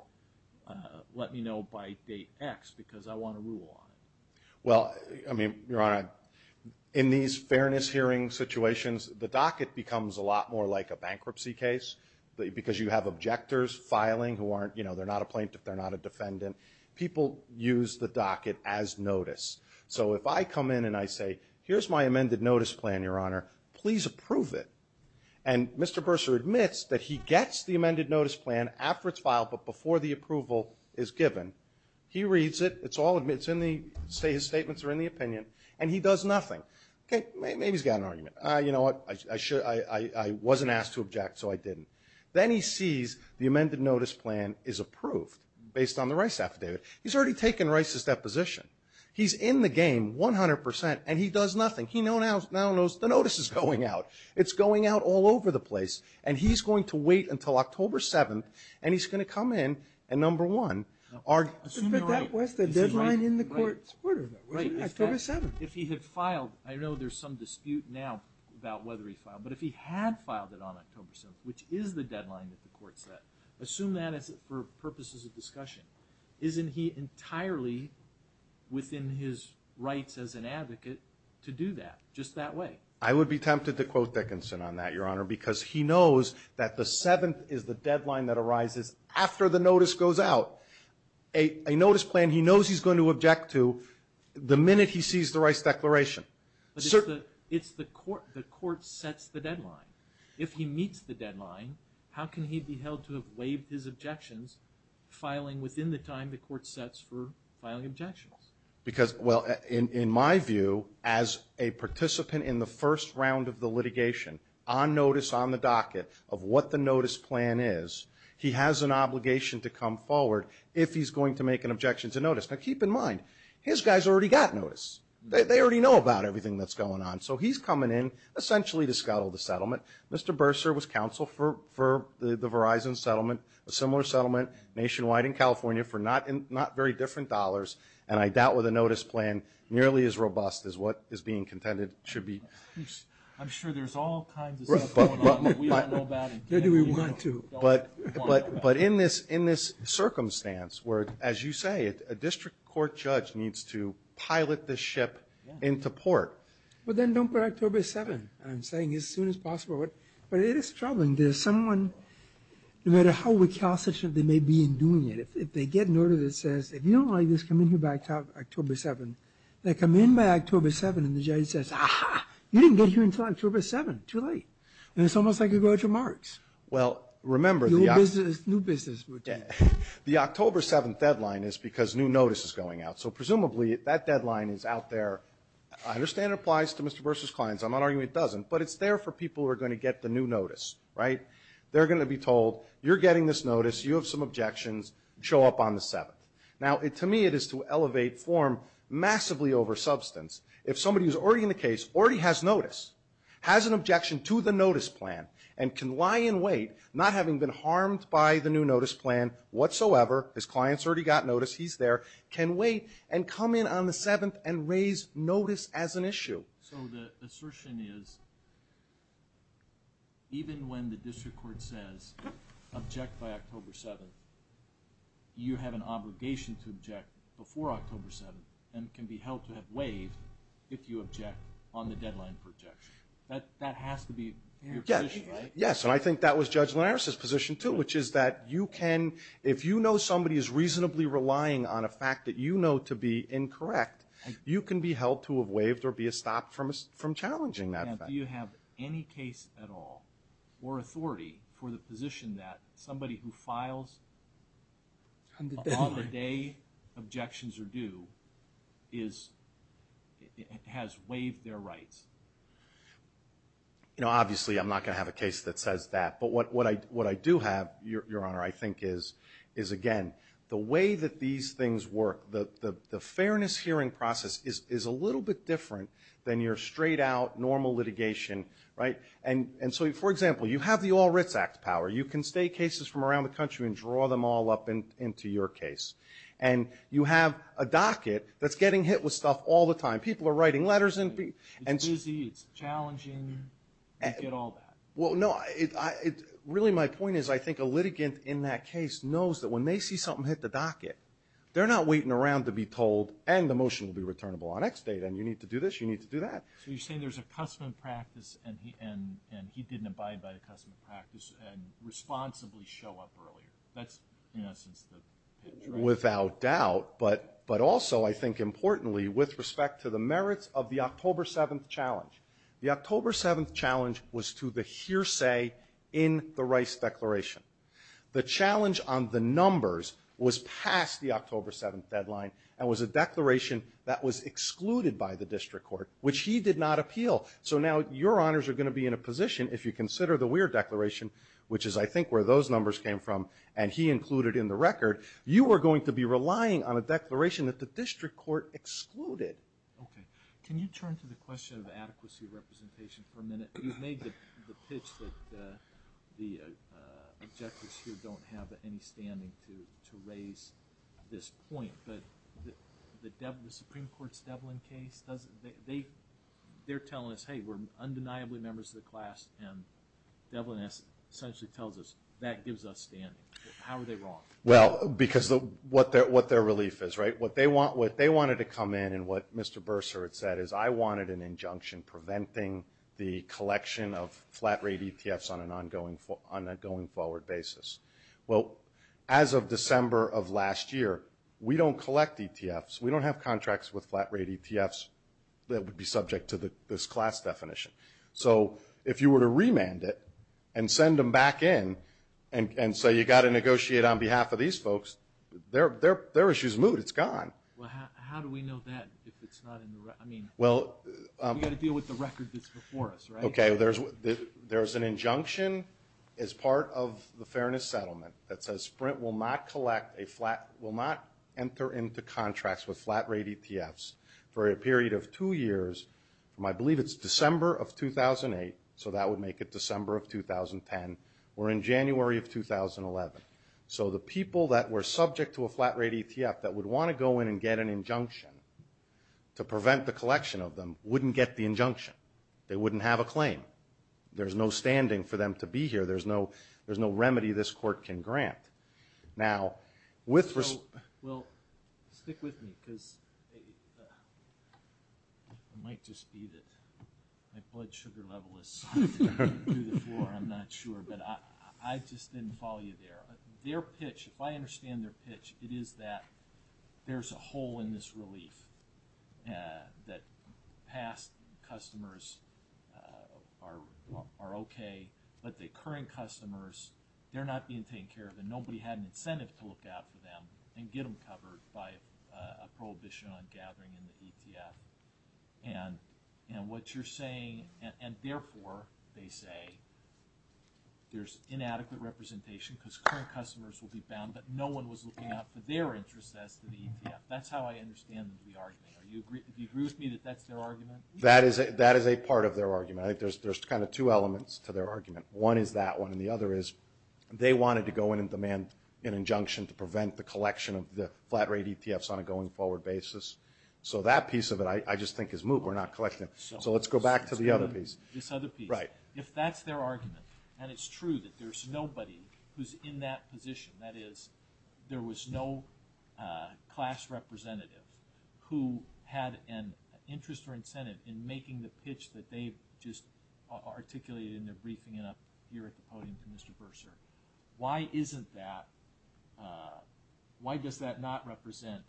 let me know by date X because I want to rule on it. Well, I mean, Your Honor, in these fairness hearing situations, the docket becomes a lot more like a bankruptcy case because you have objectors filing who aren't, you know, they're not a plaintiff, they're not a defendant. People use the docket as notice. So if I come in and I say, here's my amended notice plan, Your Honor, please approve it, and Mr. Bursar admits that he gets the amended notice plan after it's filed but before the approval is given. He reads it. It's all in the statements or in the opinion, and he does nothing. Okay, maybe he's got an argument. You know what, I wasn't asked to object, so I didn't. Then he sees the amended notice plan is approved based on the Rice affidavit. He's already taken Rice's deposition. He's in the game 100%, and he does nothing. He now knows the notice is going out. It's going out all over the place, and he's going to wait until October 7th, and he's going to come in and, number one, submit that with the deadline in the court order, October 7th. If he had filed, I know there's some dispute now about whether he filed, but if he had filed it on October 7th, which is the deadline that the court set, assume that for purposes of discussion. Isn't he entirely within his rights as an advocate to do that just that way? Because he knows that the 7th is the deadline that arises after the notice goes out. A notice plan he knows he's going to object to the minute he sees the Rice declaration. But if the court sets the deadline, if he meets the deadline, how can he be held to have waived his objections, filing within the time the court sets for filing objections? Because, well, in my view, as a participant in the first round of the litigation, on notice, on the docket of what the notice plan is, he has an obligation to come forward if he's going to make an objection to notice. Now, keep in mind, his guys already got notice. They already know about everything that's going on, so he's coming in essentially to scuttle the settlement. Mr. Bursar was counsel for the Verizon settlement, a similar settlement nationwide in California for not very different dollars, and I doubt whether the notice plan, nearly as robust as what is being contended, should be used. I'm sure there's all kinds of... Maybe we want to. But in this circumstance where, as you say, a district court judge needs to pilot the ship into port. Well, then don't put October 7th. I'm saying as soon as possible. But it is troubling. There's someone, no matter how recalcitrant they may be in doing it, if they get an order that says, if you don't like this, come in here by October 7th, they come in by October 7th and the judge says, you didn't get here until October 7th, too late. And it's almost like you're going to March. Well, remember... New business. The October 7th deadline is because new notice is going out. So presumably that deadline is out there. I understand it applies to Mr. Bursar's clients. I'm not arguing it doesn't, but it's there for people who are going to get the new notice, right? They're going to be told, you're getting this notice, you have some objections, show up on the 7th. Now, to me, it is to elevate form massively over substance. If somebody who's already in the case, already has notice, has an objection to the notice plan, and can lie in wait, not having been harmed by the new notice plan whatsoever, his clients already got notice, he's there, can wait and come in on the 7th and raise notice as an issue. So the assertion is, even when the district court says, object by October 7th, you have an obligation to object before October 7th, and can be held to have waived if you object on the deadline for objection. That has to be your position, right? Yes, and I think that was Judge Linares' position, too, which is that you can, if you know somebody who's reasonably relying on a fact that you know to be incorrect, you can be held to have waived or be stopped from challenging that fact. Now, do you have any case at all, or authority, for the position that somebody who files on the day objections are due has waived their right? Obviously, I'm not going to have a case that says that. But what I do have, Your Honor, I think is, again, the way that these things work, the fairness hearing process is a little bit different than your straight-out, normal litigation, right? And so, for example, you have the All Writs Act's power. You can take cases from around the country and draw them all up into your case. And you have a docket that's getting hit with stuff all the time. People are writing letters in. It's busy, it's challenging, you get all that. Well, no, really my point is I think a litigant in that case knows that when they see something hit the docket, they're not waiting around to be told, and the motion will be returnable the next day, and you need to do this, you need to do that. So you're saying there's a custom practice, and he didn't abide by the custom practice, and responsibly show up earlier. That's, in essence, the picture. Without doubt. But also, I think importantly, with respect to the merits of the October 7th challenge. The October 7th challenge was to the hearsay in the Rice Declaration. The challenge on the numbers was past the October 7th deadline, and was a declaration that was excluded by the district court, which he did not appeal. So now your honors are going to be in a position, if you consider the Weir Declaration, which is I think where those numbers came from, and he included in the record, you are going to be relying on a declaration that the district court excluded. Okay. Can you turn to the question of adequacy of representation for a minute? You made the pitch that the objectives here don't have any standing to raise this point, but the Supreme Court's Devlin case, they're telling us, hey, we're undeniably members of the class, and Devlin essentially tells us that gives us standing. How are they wrong? Well, because of what their relief is, right? What they wanted to come in, and what Mr. Bersert said, is I wanted an injunction preventing the collection of flat-rate EPFs on a going-forward basis. Well, as of December of last year, we don't collect EPFs. We don't have contracts with flat-rate EPFs that would be subject to this class definition. So if you were to remand it and send them back in and say you've got to negotiate on behalf of these folks, their issue's moved. It's gone. Well, how do we know that if it's not in the record? I mean, we've got to deal with the record that's before us, right? Okay. There's an injunction as part of the Fairness Settlement that says Sprint will not enter into contracts with flat-rate EPFs for a period of two years. I believe it's December of 2008, so that would make it December of 2010, or in January of 2011. So the people that were subject to a flat-rate EPF that would want to go in and get an injunction to prevent the collection of them wouldn't get the injunction. They wouldn't have a claim. There's no standing for them to be here. There's no remedy this court can grant. Now, with respect to… Well, stick with me because it might just be that my blood sugar level is going through the floor. I'm not sure, but I just didn't follow you there. Their pitch, if I understand their pitch, it is that there's a hole in this relief that past customers are okay, but the current customers, they're not being taken care of, and nobody had an incentive to look out for them and get them covered by a prohibition on gathering in the EPF. And what you're saying, and therefore they say there's inadequate representation because current customers will be found, but no one was looking out for their interests as to the EPF. That's how I understand the argument. Do you agree with me that that's their argument? That is a part of their argument. There's kind of two elements to their argument. One is that one, and the other is they wanted to go in and demand an injunction to prevent the collection of the flat rate EPFs on a going forward basis. So that piece of it I just think is moot. We're not collecting it. So let's go back to the other piece. If that's their argument, and it's true that there's nobody who's in that position, in making the pitch that they just articulated in their briefing up here at the podium for Mr. Bursar, why isn't that, why does that not represent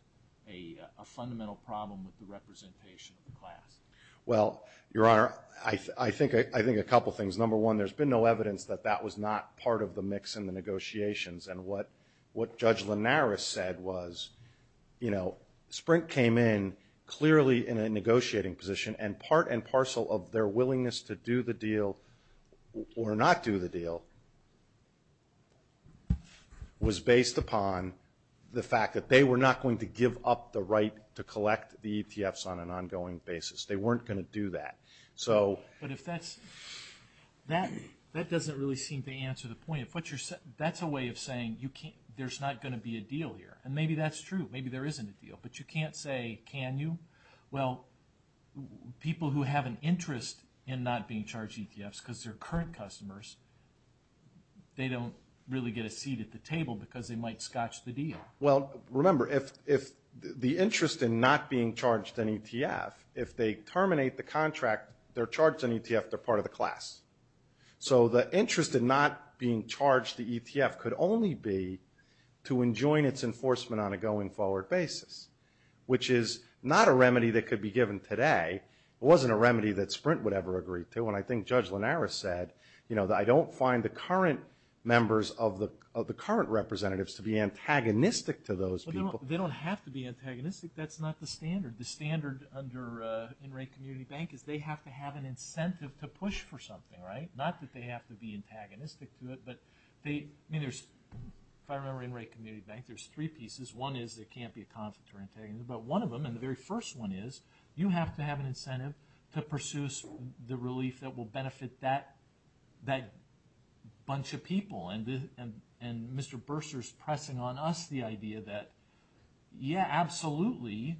a fundamental problem with the representation of the class? Well, Your Honor, I think a couple things. Number one, there's been no evidence that that was not part of the mix in the negotiations. And what Judge Linares said was Sprint came in clearly in a negotiating position, and part and parcel of their willingness to do the deal or not do the deal was based upon the fact that they were not going to give up the right to collect the EPFs on an ongoing basis. They weren't going to do that. But that doesn't really seem to answer the point. That's a way of saying there's not going to be a deal here. And maybe that's true. Maybe there isn't a deal. But you can't say, can you? Well, people who have an interest in not being charged EPFs because they're current customers, they don't really get a seat at the table because they might scotch the deal. Well, remember, if the interest in not being charged an EPF, if they terminate the contract, they're charged an EPF, they're part of the class. So the interest in not being charged the EPF could only be to enjoin its enforcement on a going forward basis, which is not a remedy that could be given today. It wasn't a remedy that Sprint would ever agree to. I don't find the current members of the current representatives to be antagonistic to those people. They don't have to be antagonistic. That's not the standard. The standard under In-Rank Community Bank is they have to have an incentive to push for something, right? Not that they have to be antagonistic to it. But if I remember In-Rank Community Bank, there's three pieces. One is there can't be a conflict of antagonism. And the very first one is you have to have an incentive to pursue the relief that will benefit that bunch of people. And Mr. Bursar is pressing on us the idea that, yeah, absolutely,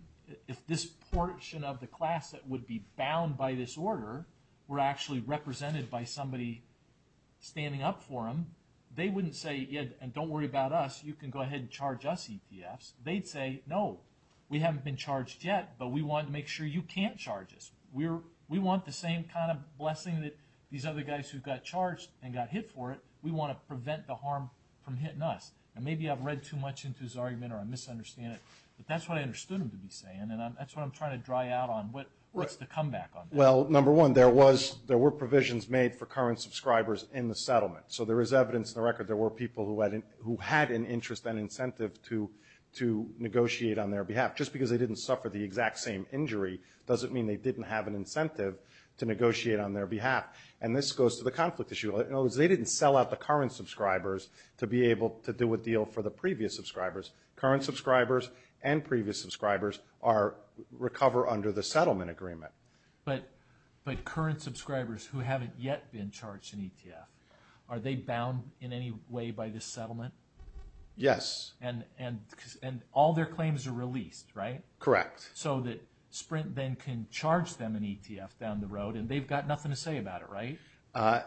if this portion of the class that would be bound by this order were actually represented by somebody standing up for them, they wouldn't say, yeah, and don't worry about us. You can go ahead and charge us EPFs. They'd say, no, we haven't been charged yet, but we want to make sure you can't charge us. We want the same kind of blessing that these other guys who got charged and got hit for it. We want to prevent the harm from hitting us. And maybe I've read too much into his argument or I misunderstand it, but that's what I understood him to be saying. And that's what I'm trying to dry out on what's the comeback on that. Well, number one, there were provisions made for current subscribers in the settlement. So there is evidence in the record there were people who had an interest and incentive to negotiate on their behalf. Just because they didn't suffer the exact same injury doesn't mean they didn't have an incentive to negotiate on their behalf. And this goes to the conflict issue. In other words, they didn't sell out the current subscribers to be able to do a deal for the previous subscribers. Current subscribers and previous subscribers recover under the settlement agreement. But current subscribers who haven't yet been charged in ETF, are they bound in any way by this settlement? Yes. And all their claims are released, right? Correct. So that Sprint then can charge them an ETF down the road and they've got nothing to say about it, right?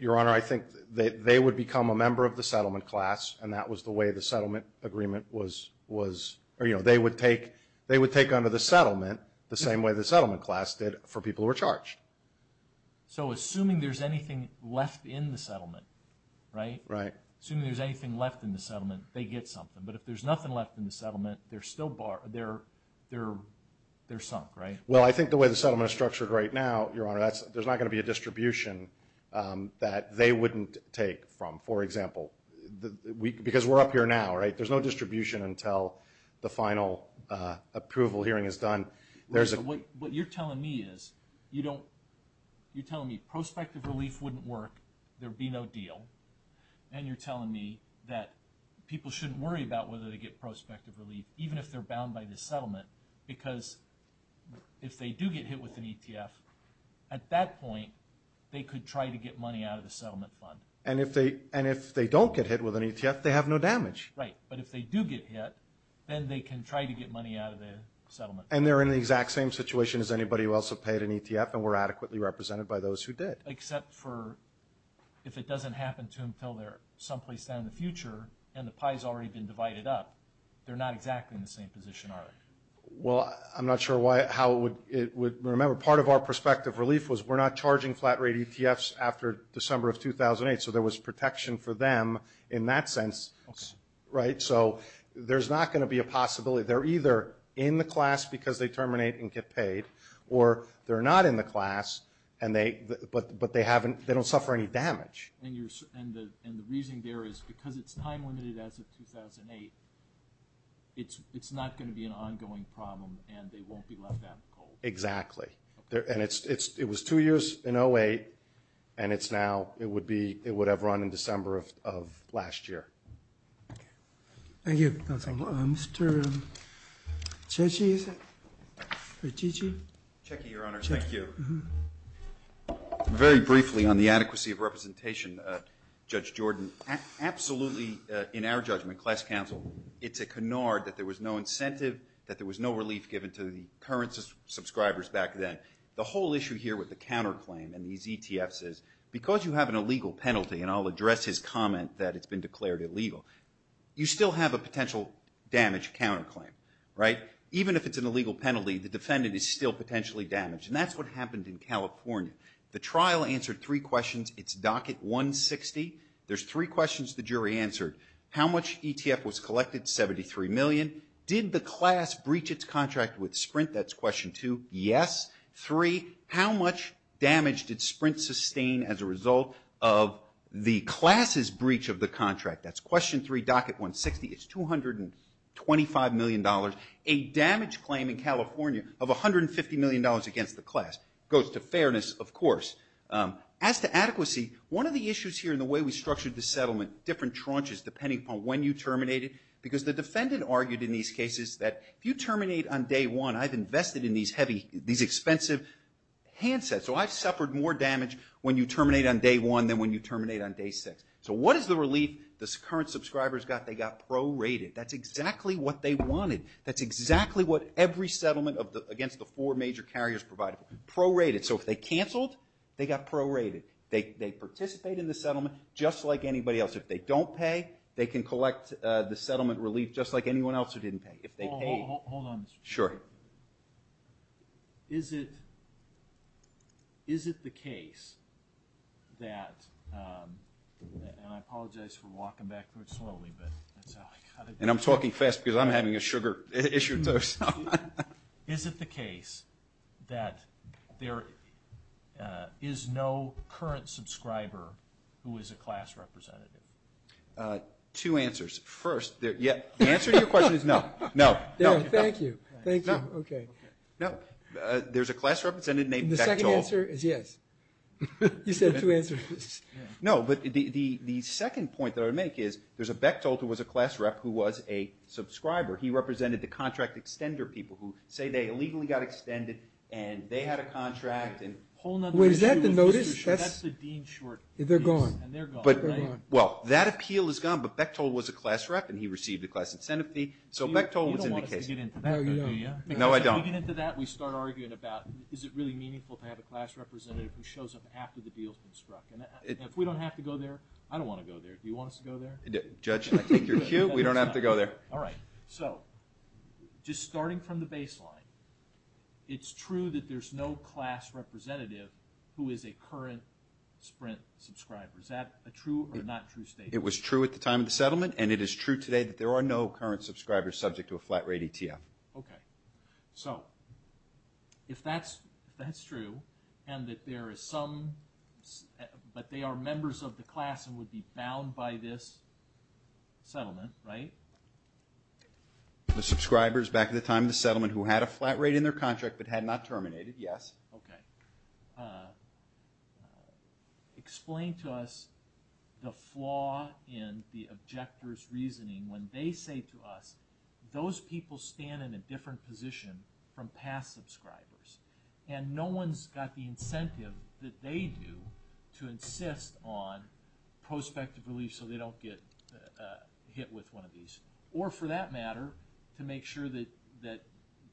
Your Honor, I think they would become a member of the settlement class, and that was the way the settlement agreement was. They would take under the settlement the same way the settlement class did for people who were charged. So assuming there's anything left in the settlement, right? Right. Assuming there's anything left in the settlement, they get something. But if there's nothing left in the settlement, they're sunk, right? Well, I think the way the settlement is structured right now, Your Honor, there's not going to be a distribution that they wouldn't take from. For example, because we're up here now, right? There's no distribution until the final approval hearing is done. What you're telling me is, you're telling me prospective relief wouldn't work, there'd be no deal, and you're telling me that people shouldn't worry about whether they get prospective relief, even if they're bound by this settlement, because if they do get hit with an ETF, at that point, they could try to get money out of the settlement fund. And if they don't get hit with an ETF, they have no damage. Right. But if they do get hit, then they can try to get money out of the settlement fund. And they're in the exact same situation as anybody else who paid an ETF and were adequately represented by those who did. Except for if it doesn't happen to them until they're someplace down in the future and the pie's already been divided up, they're not exactly in the same position, are they? Well, I'm not sure how it would – remember, part of our prospective relief was we're not charging flat rate ETFs after December of 2008, so there was protection for them in that sense, right? So there's not going to be a possibility. They're either in the class because they terminate and get paid, or they're not in the class, but they don't suffer any damage. And the reason there is because it's time-limited as it's 2008, it's not going to be an ongoing problem, and they won't be left out in the cold. Exactly. And it was two years in 08, and it's now – it would have run in December of last year. Thank you. Thank you. Mr. Cecchi? Cecchi, Your Honor, thank you. Very briefly on the adequacy of representation, Judge Jordan, absolutely, in our judgment, class counsel, it's a canard that there was no incentive, that there was no relief given to the current subscribers back then. The whole issue here with the counterclaim and these ETFs is because you have an illegal penalty, and I'll address his comment that it's been declared illegal, you still have a potential damage counterclaim, right? The trial answered three questions. It's docket 160. There's three questions the jury answered. How much ETF was collected? $73 million. Did the class breach its contract with Sprint? That's question two. Yes. Three, how much damage did Sprint sustain as a result of the class's breach of the contract? That's question three, docket 160. It's $225 million, a damage claim in California of $150 million against the class. Goes to fairness, of course. As to adequacy, one of the issues here in the way we structured the settlement, different tranches depending upon when you terminate it, because the defendant argued in these cases that if you terminate on day one, I've invested in these heavy, these expensive handsets, so I've suffered more damage when you terminate on day one than when you terminate on day six. So what is the relief the current subscribers got? They got pro-rated. That's exactly what they wanted. That's exactly what every settlement against the four major carriers provided. Pro-rated. So if they canceled, they got pro-rated. They participate in the settlement just like anybody else. If they don't pay, they can collect the settlement relief just like anyone else who didn't pay. Hold on a second. Sure. Is it the case that, and I apologize for walking backwards slowly, but that's how I got it. And I'm talking fast because I'm having a sugar issue. Is it the case that there is no current subscriber who is a class representative? Two answers. First, the answer to your question is no. No. Thank you. Thank you. Okay. No. There's a class representative named Bechtol. The second answer is yes. You said two answers. No, but the second point that I would make is there's a Bechtol who was a class rep who was a subscriber. He represented the contract extender people who say they illegally got extended, and they had a contract. Was that the notice? That's the Dean short. They're gone. Well, that appeal is gone, but Bechtol was a class rep, and he received a class incentive fee, so Bechtol was in the case. You don't want to dig into that, do you? No, I don't. Digging into that, we start arguing about is it really meaningful to have a class representative who shows up after the deal has been struck. If we don't have to go there, I don't want to go there. Do you want us to go there? Judge, I think you're cute. We don't have to go there. All right. So just starting from the baseline, it's true that there's no class representative who is a current Sprint subscriber. Is that a true or not true statement? It was true at the time of the settlement, and it is true today that there are no current subscribers subject to a flat rate ETF. Okay. So if that's true and that there is some, but they are members of the class and would be bound by this settlement, right? The subscribers back at the time of the settlement who had a flat rate in their contract but had not terminated, yes. Okay. Explain to us the flaw in the objector's reasoning when they say to us, those people stand in a different position from past subscribers. And no one's got the incentive that they do to insist on prospective relief so they don't get hit with one of these. Or for that matter, to make sure that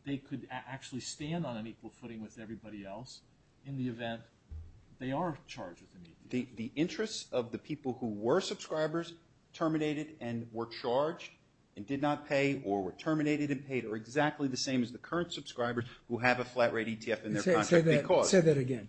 they could actually stand on an equal footing with everybody else in the event they are charged. The interests of the people who were subscribers terminated and were charged and did not pay or were terminated and paid are exactly the same as the current subscribers who have a flat rate ETF in their contract. Say that again.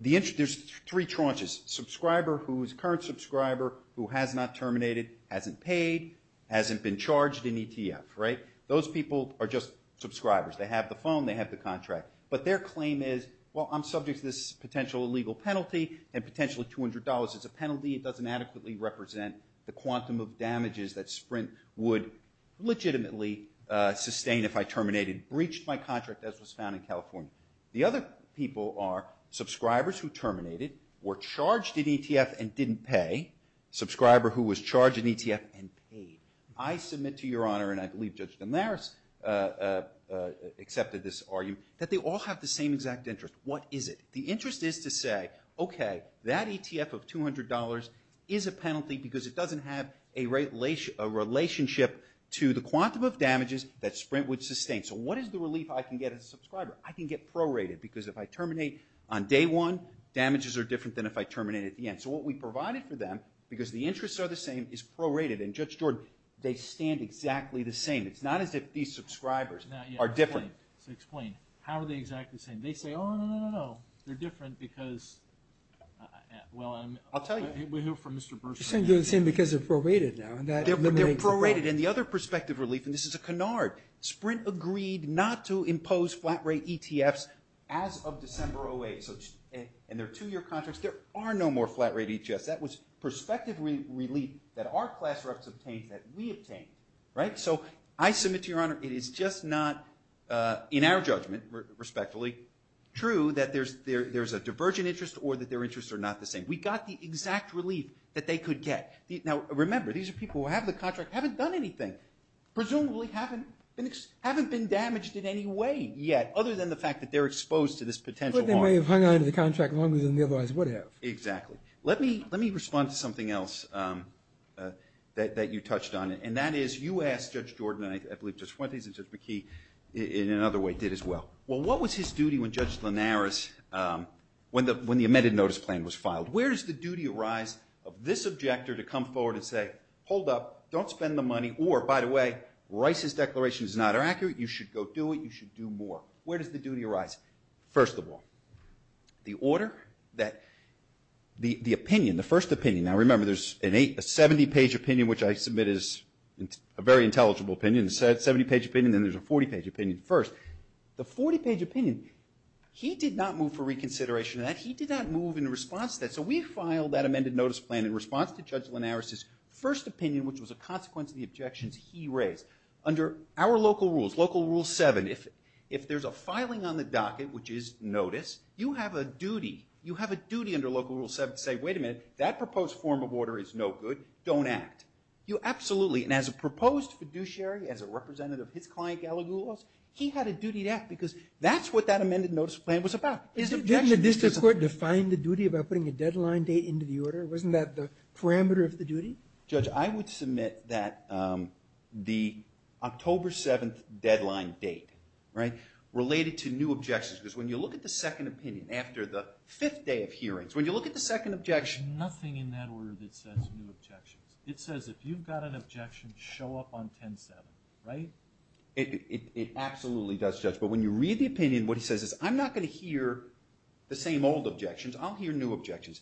There's three tranches. Subscriber who is a current subscriber who has not terminated, hasn't paid, hasn't been charged in ETF, right? Those people are just subscribers. They have the phone. They have the contract. But their claim is, well, I'm subject to this potential illegal penalty and potentially $200 is a penalty. It doesn't adequately represent the quantum of damages that Sprint would legitimately sustain if I terminated and breached my contract as was found in California. The other people are subscribers who terminated, were charged in ETF and didn't pay, subscriber who was charged in ETF and paid. I submit to Your Honor, and I believe Judge Damaris accepted this argument, that they all have the same exact interest. What is it? The interest is to say, okay, that ETF of $200 is a penalty because it doesn't have a relationship to the quantum of damages that Sprint would sustain. So what is the relief I can get as a subscriber? I can get prorated because if I terminate on day one, damages are different than if I terminate at the end. So what we provided for them, because the interests are the same, is prorated. And, Judge George, they stand exactly the same. It's not as if these subscribers are different. Explain. How are they exactly the same? They say, oh, no, no, no, no. They're different because, well, I'll tell you. We know from Mr. Burson. It's the same because they're prorated now. They're prorated. And this is a canard. Sprint agreed not to impose flat-rate ETFs as of December 2008. And there are two-year contracts. There are no more flat-rate ETFs. That was prospective relief that our class reps obtained that we obtained. So I submit to your honor, it is just not, in our judgment, respectfully, true that there's a divergent interest or that their interests are not the same. We got the exact relief that they could get. Now, remember, these are people who have the contract, haven't done anything. Presumably haven't been damaged in any way yet other than the fact that they're exposed to this potential harm. But they may have hung on to the contract longer than they otherwise would have. Exactly. Let me respond to something else that you touched on. And that is you asked Judge Jordan and I believe Judge Fuentes and Judge McKee in another way did as well. Well, what was his duty when Judge Linares, when the amended notice plan was filed? Where does the duty arise of this objector to come forward and say, hold up, don't spend the money. Or, by the way, Rice's declaration is not accurate. You should go do it. You should do more. Where does the duty arise? First of all, the order that the opinion, the first opinion. Now, remember, there's a 70-page opinion, which I submit is a very intelligible opinion. It's a 70-page opinion, and then there's a 40-page opinion first. The 40-page opinion, he did not move for reconsideration of that. He did not move in response to that. So we filed that amended notice plan in response to Judge Linares' first opinion, which was a consequence of the objections he raised. Under our local rules, Local Rule 7, if there's a filing on the docket, which is notice, you have a duty. You have a duty under Local Rule 7 to say, wait a minute, that proposed form of order is no good. Don't act. You absolutely, and as a proposed fiduciary, as a representative of his client, Allen Goulos, he had a duty to act because that's what that amended notice plan was about. Didn't the district court define the duty about putting a deadline date into the order? Wasn't that the parameter of the duty? Judge, I would submit that the October 7th deadline date related to new objections, because when you look at the second opinion after the fifth day of hearings, when you look at the second objection, nothing in that order that says new objections. It says if you've got an objection, show up on 10-7, right? It absolutely does, Judge. But when you read the opinion, what it says is I'm not going to hear the same old objections. I'll hear new objections.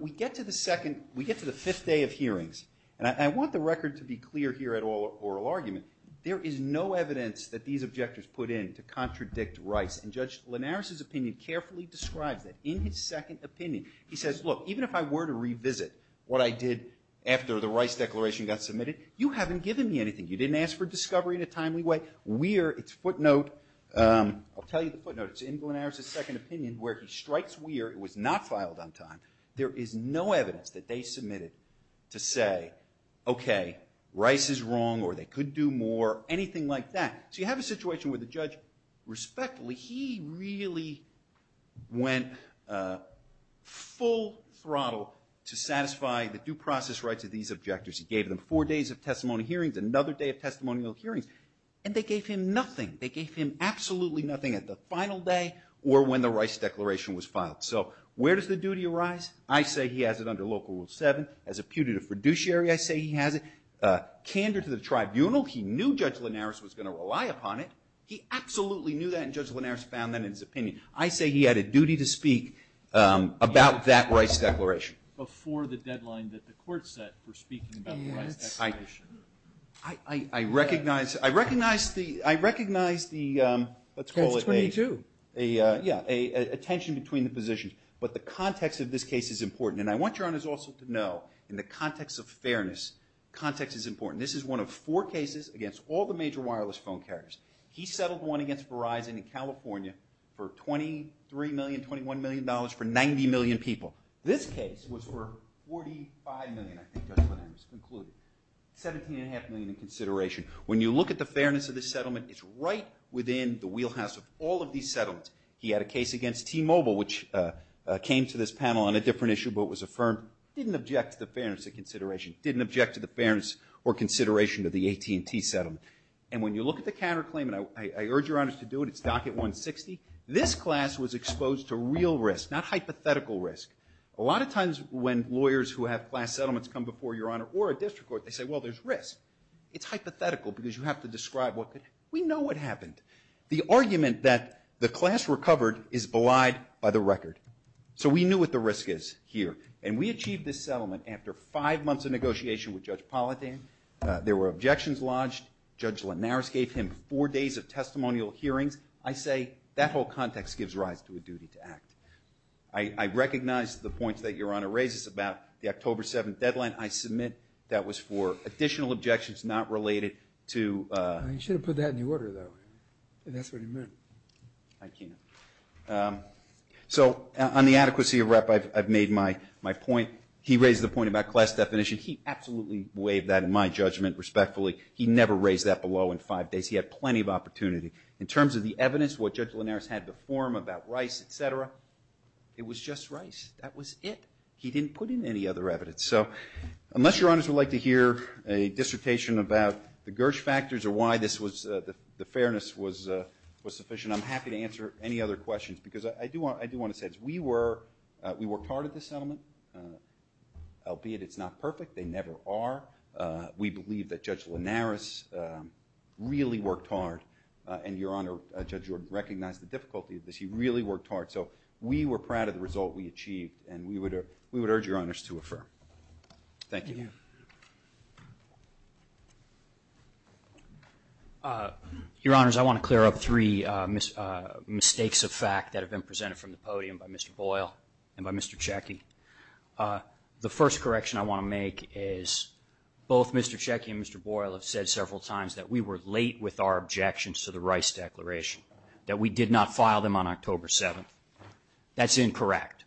We get to the second – we get to the fifth day of hearings, and I want the record to be clear here at oral argument. There is no evidence that these objectors put in to contradict Rice. And Judge Linares' opinion carefully described it in his second opinion. He says, look, even if I were to revisit what I did after the Rice declaration got submitted, you haven't given me anything. You didn't ask for discovery in a timely way. Weir, its footnote – I'll tell you the footnote. It's in Linares' second opinion where he strikes Weir. It was not filed on time. There is no evidence that they submitted to say, okay, Rice is wrong or they could do more, anything like that. So you have a situation where the judge respectfully – he really went full throttle to satisfy the due process rights of these objectors. He gave them four days of testimony hearings, another day of testimonial hearings, and they gave him nothing. They gave him absolutely nothing at the final day or when the Rice declaration was filed. So where does the duty arise? I say he has it under Local Rule 7. As a putative fiduciary, I say he has it. Candor to the tribunal – he knew Judge Linares was going to rely upon it. He absolutely knew that, and Judge Linares found that in his opinion. I say he had a duty to speak about that Rice declaration. Before the deadline that the court set for speaking about the Rice declaration. I recognize the – let's call it a – That's 22. Yeah, a tension between the positions, but the context of this case is important. And I want your honors also to know in the context of fairness, context is important. This is one of four cases against all the major wireless phone carriers. He settled one against Verizon in California for $23 million, $21 million for 90 million people. This case was for $45 million, I think Judge Linares concluded. $17.5 million in consideration. When you look at the fairness of this settlement, it's right within the wheelhouse of all of these settlements. He had a case against T-Mobile, which came to this panel on a different issue, but it was affirmed. Didn't object to the fairness of consideration. Didn't object to the fairness or consideration of the AT&T settlement. And when you look at the counterclaim, and I urge your honors to do it, it's docket 160. This class was exposed to real risk, not hypothetical risk. A lot of times when lawyers who have class settlements come before your honor or a district court, they say, well, there's risk. It's hypothetical because you have to describe what – we know what happened. The argument that the class recovered is belied by the record. So we knew what the risk is here, and we achieved this settlement after five months of negotiation with Judge Politan. There were objections lodged. Judge Linares gave him four days of testimonial hearings. I say that whole context gives rise to a duty to act. I recognize the points that your honor raises about the October 7th deadline. I submit that was for additional objections not related to – You should have put that in the order, though, and that's what you meant. I can't. So on the adequacy of rep, I've made my point. He raised the point about class definition. He absolutely waived that in my judgment respectfully. He never raised that below in five days. He had plenty of opportunity. In terms of the evidence, what Judge Linares had to form about Rice, et cetera, it was just Rice. That was it. He didn't put in any other evidence. So unless your honors would like to hear a dissertation about the Gersh factors or why this was – the fairness was sufficient, I'm happy to answer any other questions because I do want to say we were part of the settlement, albeit it's not perfect. They never are. We believe that Judge Linares really worked hard, and your honor, Judge, you recognize the difficulties that she really worked hard. So we were proud of the result we achieved, and we would urge your honors to affirm. Thank you. Your honors, I want to clear up three mistakes of fact that have been presented from the podium by Mr. Boyle and by Mr. Checkey. The first correction I want to make is both Mr. Checkey and Mr. Boyle have said several times that we were late with our objections to the Rice Declaration, that we did not file them on October 7th. That's incorrect.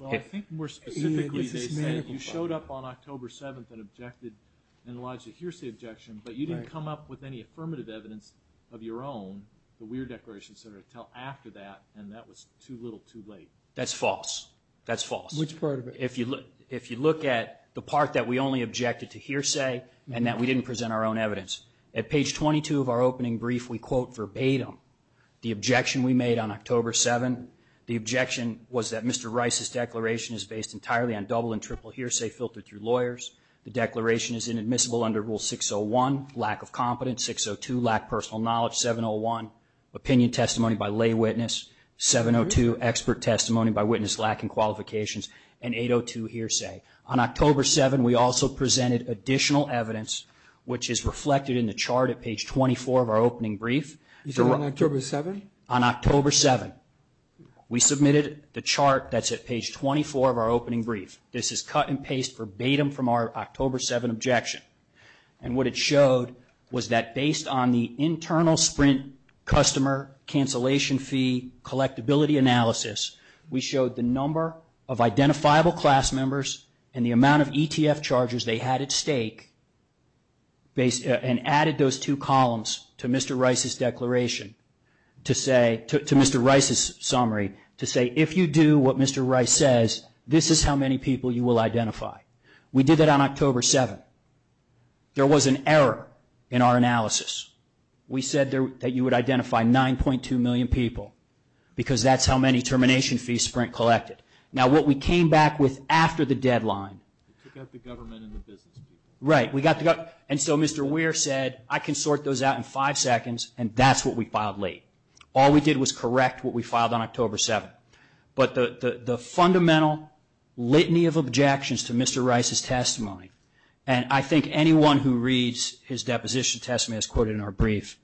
Well, I think more specifically, you showed up on October 7th and objected, and Elijah, here's the objection, but you didn't come up with any affirmative evidence of your own for Weir Declaration until after that, and that was too little too late. That's false. That's false. Which part of it? If you look at the part that we only objected to hearsay and that we didn't present our own evidence. At page 22 of our opening brief, we quote verbatim the objection we made on October 7th. The objection was that Mr. Rice's declaration is based entirely on double and triple hearsay filtered through lawyers. The declaration is inadmissible under Rule 601, lack of confidence, 602, lack of personal knowledge, 701, opinion testimony by lay witness, 702, expert testimony by witness lacking qualifications, and 802, hearsay. On October 7th, we also presented additional evidence, which is reflected in the chart at page 24 of our opening brief. On October 7th? On October 7th. We submitted the chart that's at page 24 of our opening brief. This is cut and paste verbatim from our October 7th objection, and what it showed was that based on the internal sprint customer cancellation fee collectability analysis, we showed the number of identifiable class members and the amount of ETF chargers they had at stake and added those two columns to Mr. Rice's declaration to say, to Mr. Rice's summary, to say if you do what Mr. Rice says, this is how many people you will identify. We did that on October 7th. There was an error in our analysis. We said that you would identify 9.2 million people because that's how many termination fees Sprint collected. Now, what we came back with after the deadline. We got the government and the business. Right. And so Mr. Weir said, I can sort those out in five seconds, and that's what we filed late. All we did was correct what we filed on October 7th. But the fundamental litany of objections to Mr. Rice's testimony, and I think anyone who reads his deposition testament as quoted in our brief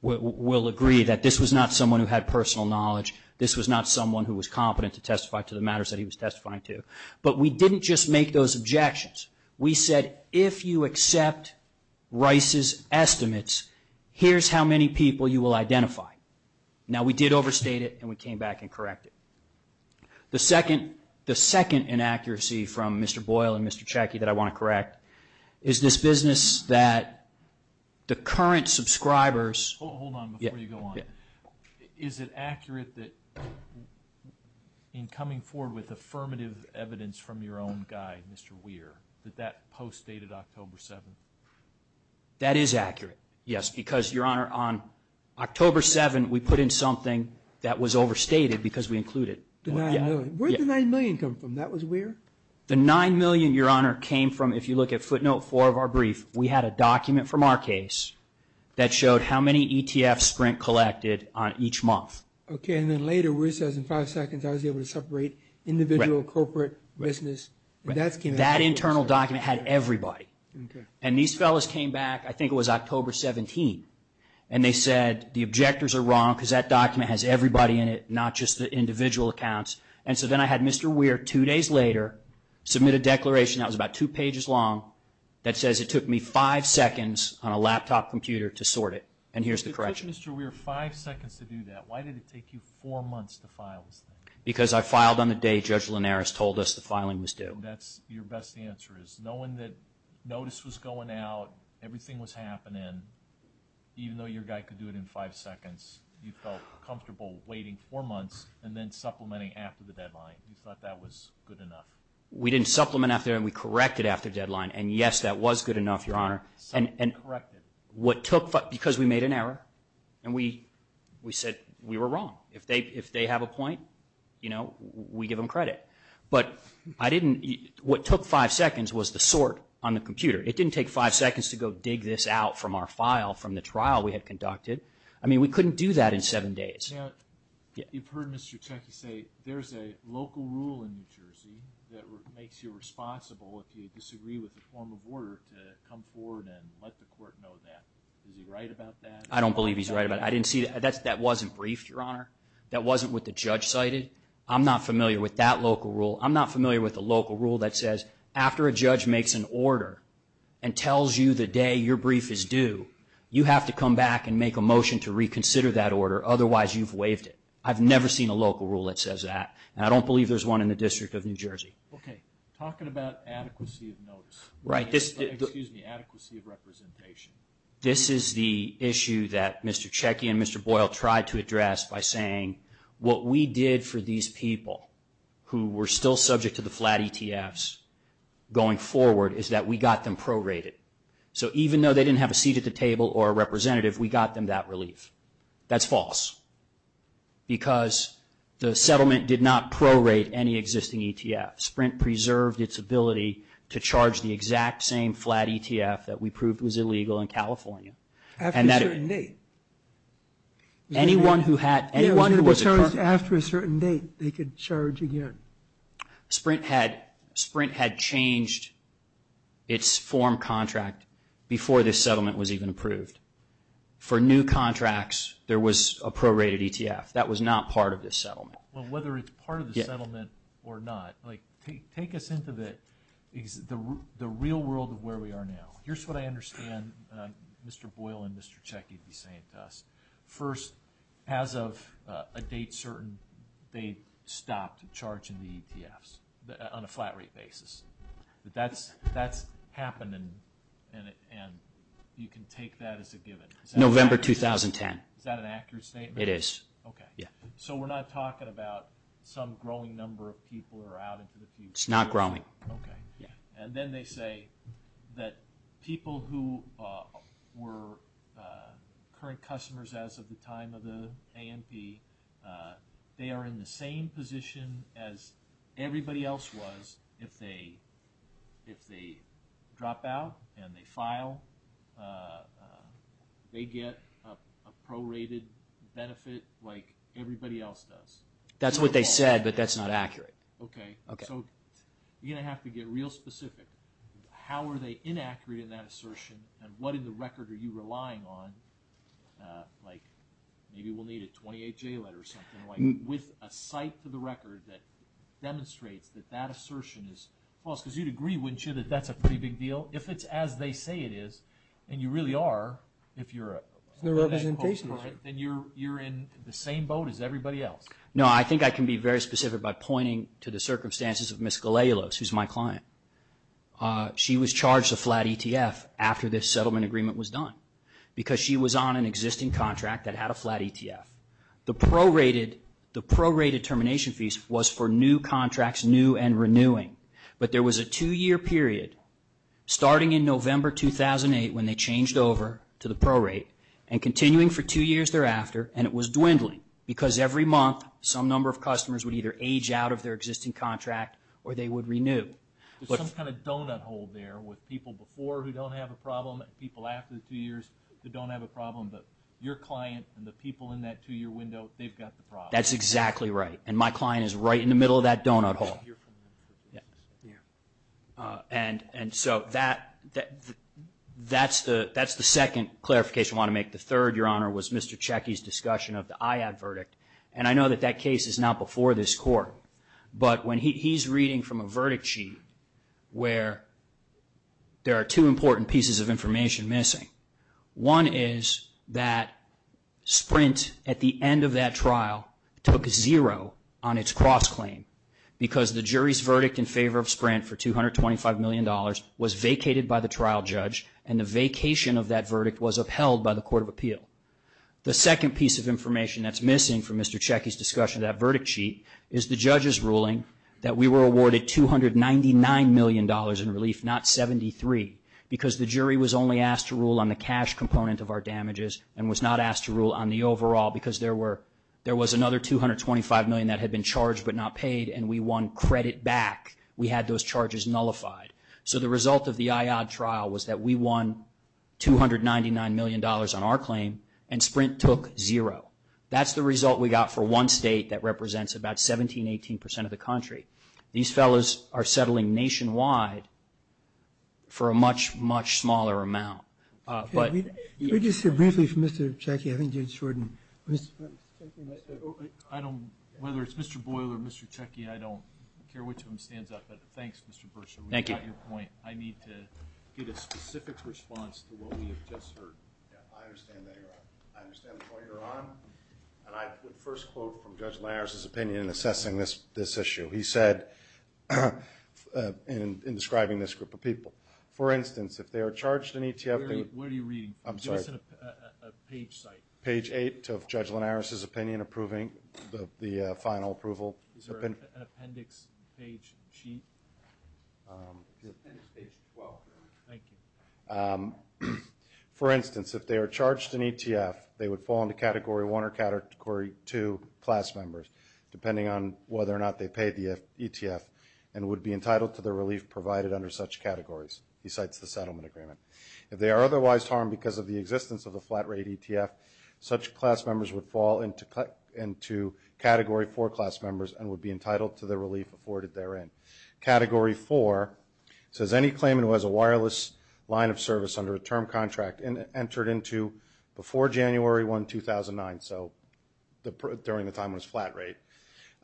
will agree that this was not someone who had personal knowledge. This was not someone who was competent to testify to the matters that he was testifying to. But we didn't just make those objections. We said if you accept Rice's estimates, here's how many people you will identify. Now, we did overstate it, and we came back and corrected it. The second inaccuracy from Mr. Boyle and Mr. Chackie that I want to correct is this business that the current subscribers. Hold on before you go on. Is it accurate that in coming forward with affirmative evidence from your own guy, Mr. Weir, that that post dated October 7th? That is accurate, yes. Because, Your Honor, on October 7th, we put in something that was overstated because we included it. Where did the $9 million come from? That was Weir? The $9 million, Your Honor, came from, if you look at footnote 4 of our brief, we had a document from our case that showed how many ETFs Sprint collected on each month. Okay, and then later, we said in five seconds, I was able to separate individual, corporate, business. That internal document had everybody. And these fellows came back, I think it was October 17th, and they said the objectors are wrong because that document has everybody in it, not just the individual accounts. And so then I had Mr. Weir, two days later, submit a declaration that was about two pages long that says it took me five seconds on a laptop computer to sort it, and here's the correction. It took Mr. Weir five seconds to do that. Why did it take you four months to file? Because I filed on the day Judge Linares told us the filing was due. And that's your best answer, is knowing that notice was going out, everything was happening, even though your guy could do it in five seconds, you felt comfortable waiting four months and then supplementing after the deadline. You thought that was good enough. We didn't supplement after the deadline. We corrected after the deadline, and, yes, that was good enough, Your Honor. So you corrected. Because we made an error, and we said we were wrong. If they have a point, we give them credit. But I didn't, what took five seconds was the sort on the computer. It didn't take five seconds to go dig this out from our file from the trial we had conducted. I mean, we couldn't do that in seven days. You've heard Mr. Chaffee say there's a local rule in New Jersey that makes you responsible if you disagree with the form of order to come forward and let the court know that. Is he right about that? I don't believe he's right about it. I didn't see, that wasn't briefed, Your Honor. That wasn't what the judge cited. I'm not familiar with that local rule. I'm not familiar with the local rule that says after a judge makes an order and tells you the day your brief is due, you have to come back and make a motion to reconsider that order, otherwise you've waived it. I've never seen a local rule that says that, and I don't believe there's one in the District of New Jersey. Okay. Talking about adequacy of notice. Right. Excuse me, adequacy of representation. This is the issue that Mr. Checkey and Mr. Boyle tried to address by saying what we did for these people who were still subject to the flat ETFs going forward is that we got them prorated. So even though they didn't have a seat at the table or a representative, we got them that relief. That's false because the settlement did not prorate any existing ETFs. Sprint preserved its ability to charge the exact same flat ETF that we proved was illegal in California. After a certain date. Anyone who had anyone who was charged. After a certain date, they could charge again. Sprint had changed its form contract before this settlement was even approved. For new contracts, there was a prorated ETF. That was not part of this settlement. Well, whether it's part of the settlement or not, like take us into the real world of where we are now. Here's what I understand Mr. Boyle and Mr. Checkey to be saying to us. First, as of a date certain, they stopped charging the ETFs on a flat rate basis. That's happened and you can take that as a given. November 2010. Is that an accurate statement? It is. Okay. So we're not talking about some growing number of people are out into the future. It's not growing. And then they say that people who were current customers as of the time of the AMP, they are in the same position as everybody else was if they drop out and they file. They get a prorated benefit like everybody else does. That's what they said, but that's not accurate. Okay. So you're going to have to get real specific. How are they inaccurate in that assertion and what in the record are you relying on like maybe we'll need a 28-J letter or something like with a site for the record that demonstrates that that assertion is false? Because you'd agree, wouldn't you, that that's a pretty big deal? If it's as they say it is and you really are, if you're a real estate broker, then you're in the same boat as everybody else. No, I think I can be very specific by pointing to the circumstances of Ms. Galealos, who's my client. She was charged a flat ETF after this settlement agreement was done because she was on an existing contract that had a flat ETF. The prorated termination fees was for new contracts, new and renewing, but there was a two-year period starting in November 2008 when they changed over to the prorate and continuing for two years thereafter, and it was dwindling because every month some number of customers would either age out of their existing contract or they would renew. There's some kind of donut hole there with people before who don't have a problem and people after the two years who don't have a problem, but your client and the people in that two-year window, they've got the problem. That's exactly right, and my client is right in the middle of that donut hole. And so that's the second clarification I want to make. The third, Your Honor, was Mr. Checkey's discussion of the IAD verdict, and I know that that case is not before this court, but when he's reading from a verdict sheet where there are two important pieces of information missing, one is that Sprint at the end of that trial took a zero on its cross-claim because the jury's verdict in favor of Sprint for $225 million was vacated by the trial judge, and the vacation of that verdict was upheld by the Court of Appeal. The second piece of information that's missing from Mr. Checkey's discussion of that verdict sheet is the judge's ruling that we were awarded $299 million in relief, not 73, because the jury was only asked to rule on the cash component of our damages and was not asked to rule on the overall because there was another $225 million that had been charged but not paid, and we won credit back. We had those charges nullified. So the result of the IAD trial was that we won $299 million on our claim, and Sprint took zero. That's the result we got for one state that represents about 17%, 18% of the country. These fellows are settling nationwide for a much, much smaller amount. Could you say briefly for Mr. Checkey, I think you just heard him. Whether it's Mr. Boyle or Mr. Checkey, I don't care which of them stands out, but thanks, Mr. Burson, for your point. I need to get a specific response to what we have just heard. I understand that you're on. I understand why you're on. The first quote from Judge Linares' opinion in assessing this issue, he said in describing this group of people, for instance, if they are charged in each of these. Where are you reading? I'm sorry. Go to the page site. Page 8 of Judge Linares' opinion approving the final approval. Is there an appendix page sheet? Thank you. For instance, if they are charged in ETF, they would fall into Category 1 or Category 2 class members, depending on whether or not they pay the ETF and would be entitled to the relief provided under such categories, besides the settlement agreement. If they are otherwise harmed because of the existence of a flat rate ETF, such class members would fall into Category 4 class members and would be entitled to the relief afforded therein. Category 4 says any claimant who has a wireless line of service under a term contract entered into before January 1, 2009, so during the time of this flat rate,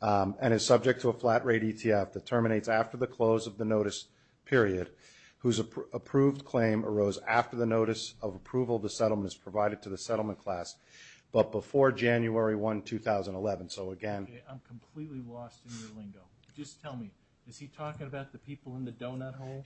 and is subject to a flat rate ETF that terminates after the close of the notice period, whose approved claim arose after the notice of approval of the settlement and is provided to the settlement class, but before January 1, 2011. I'm completely lost in your lingo. Just tell me, is he talking about the people in the donut hole?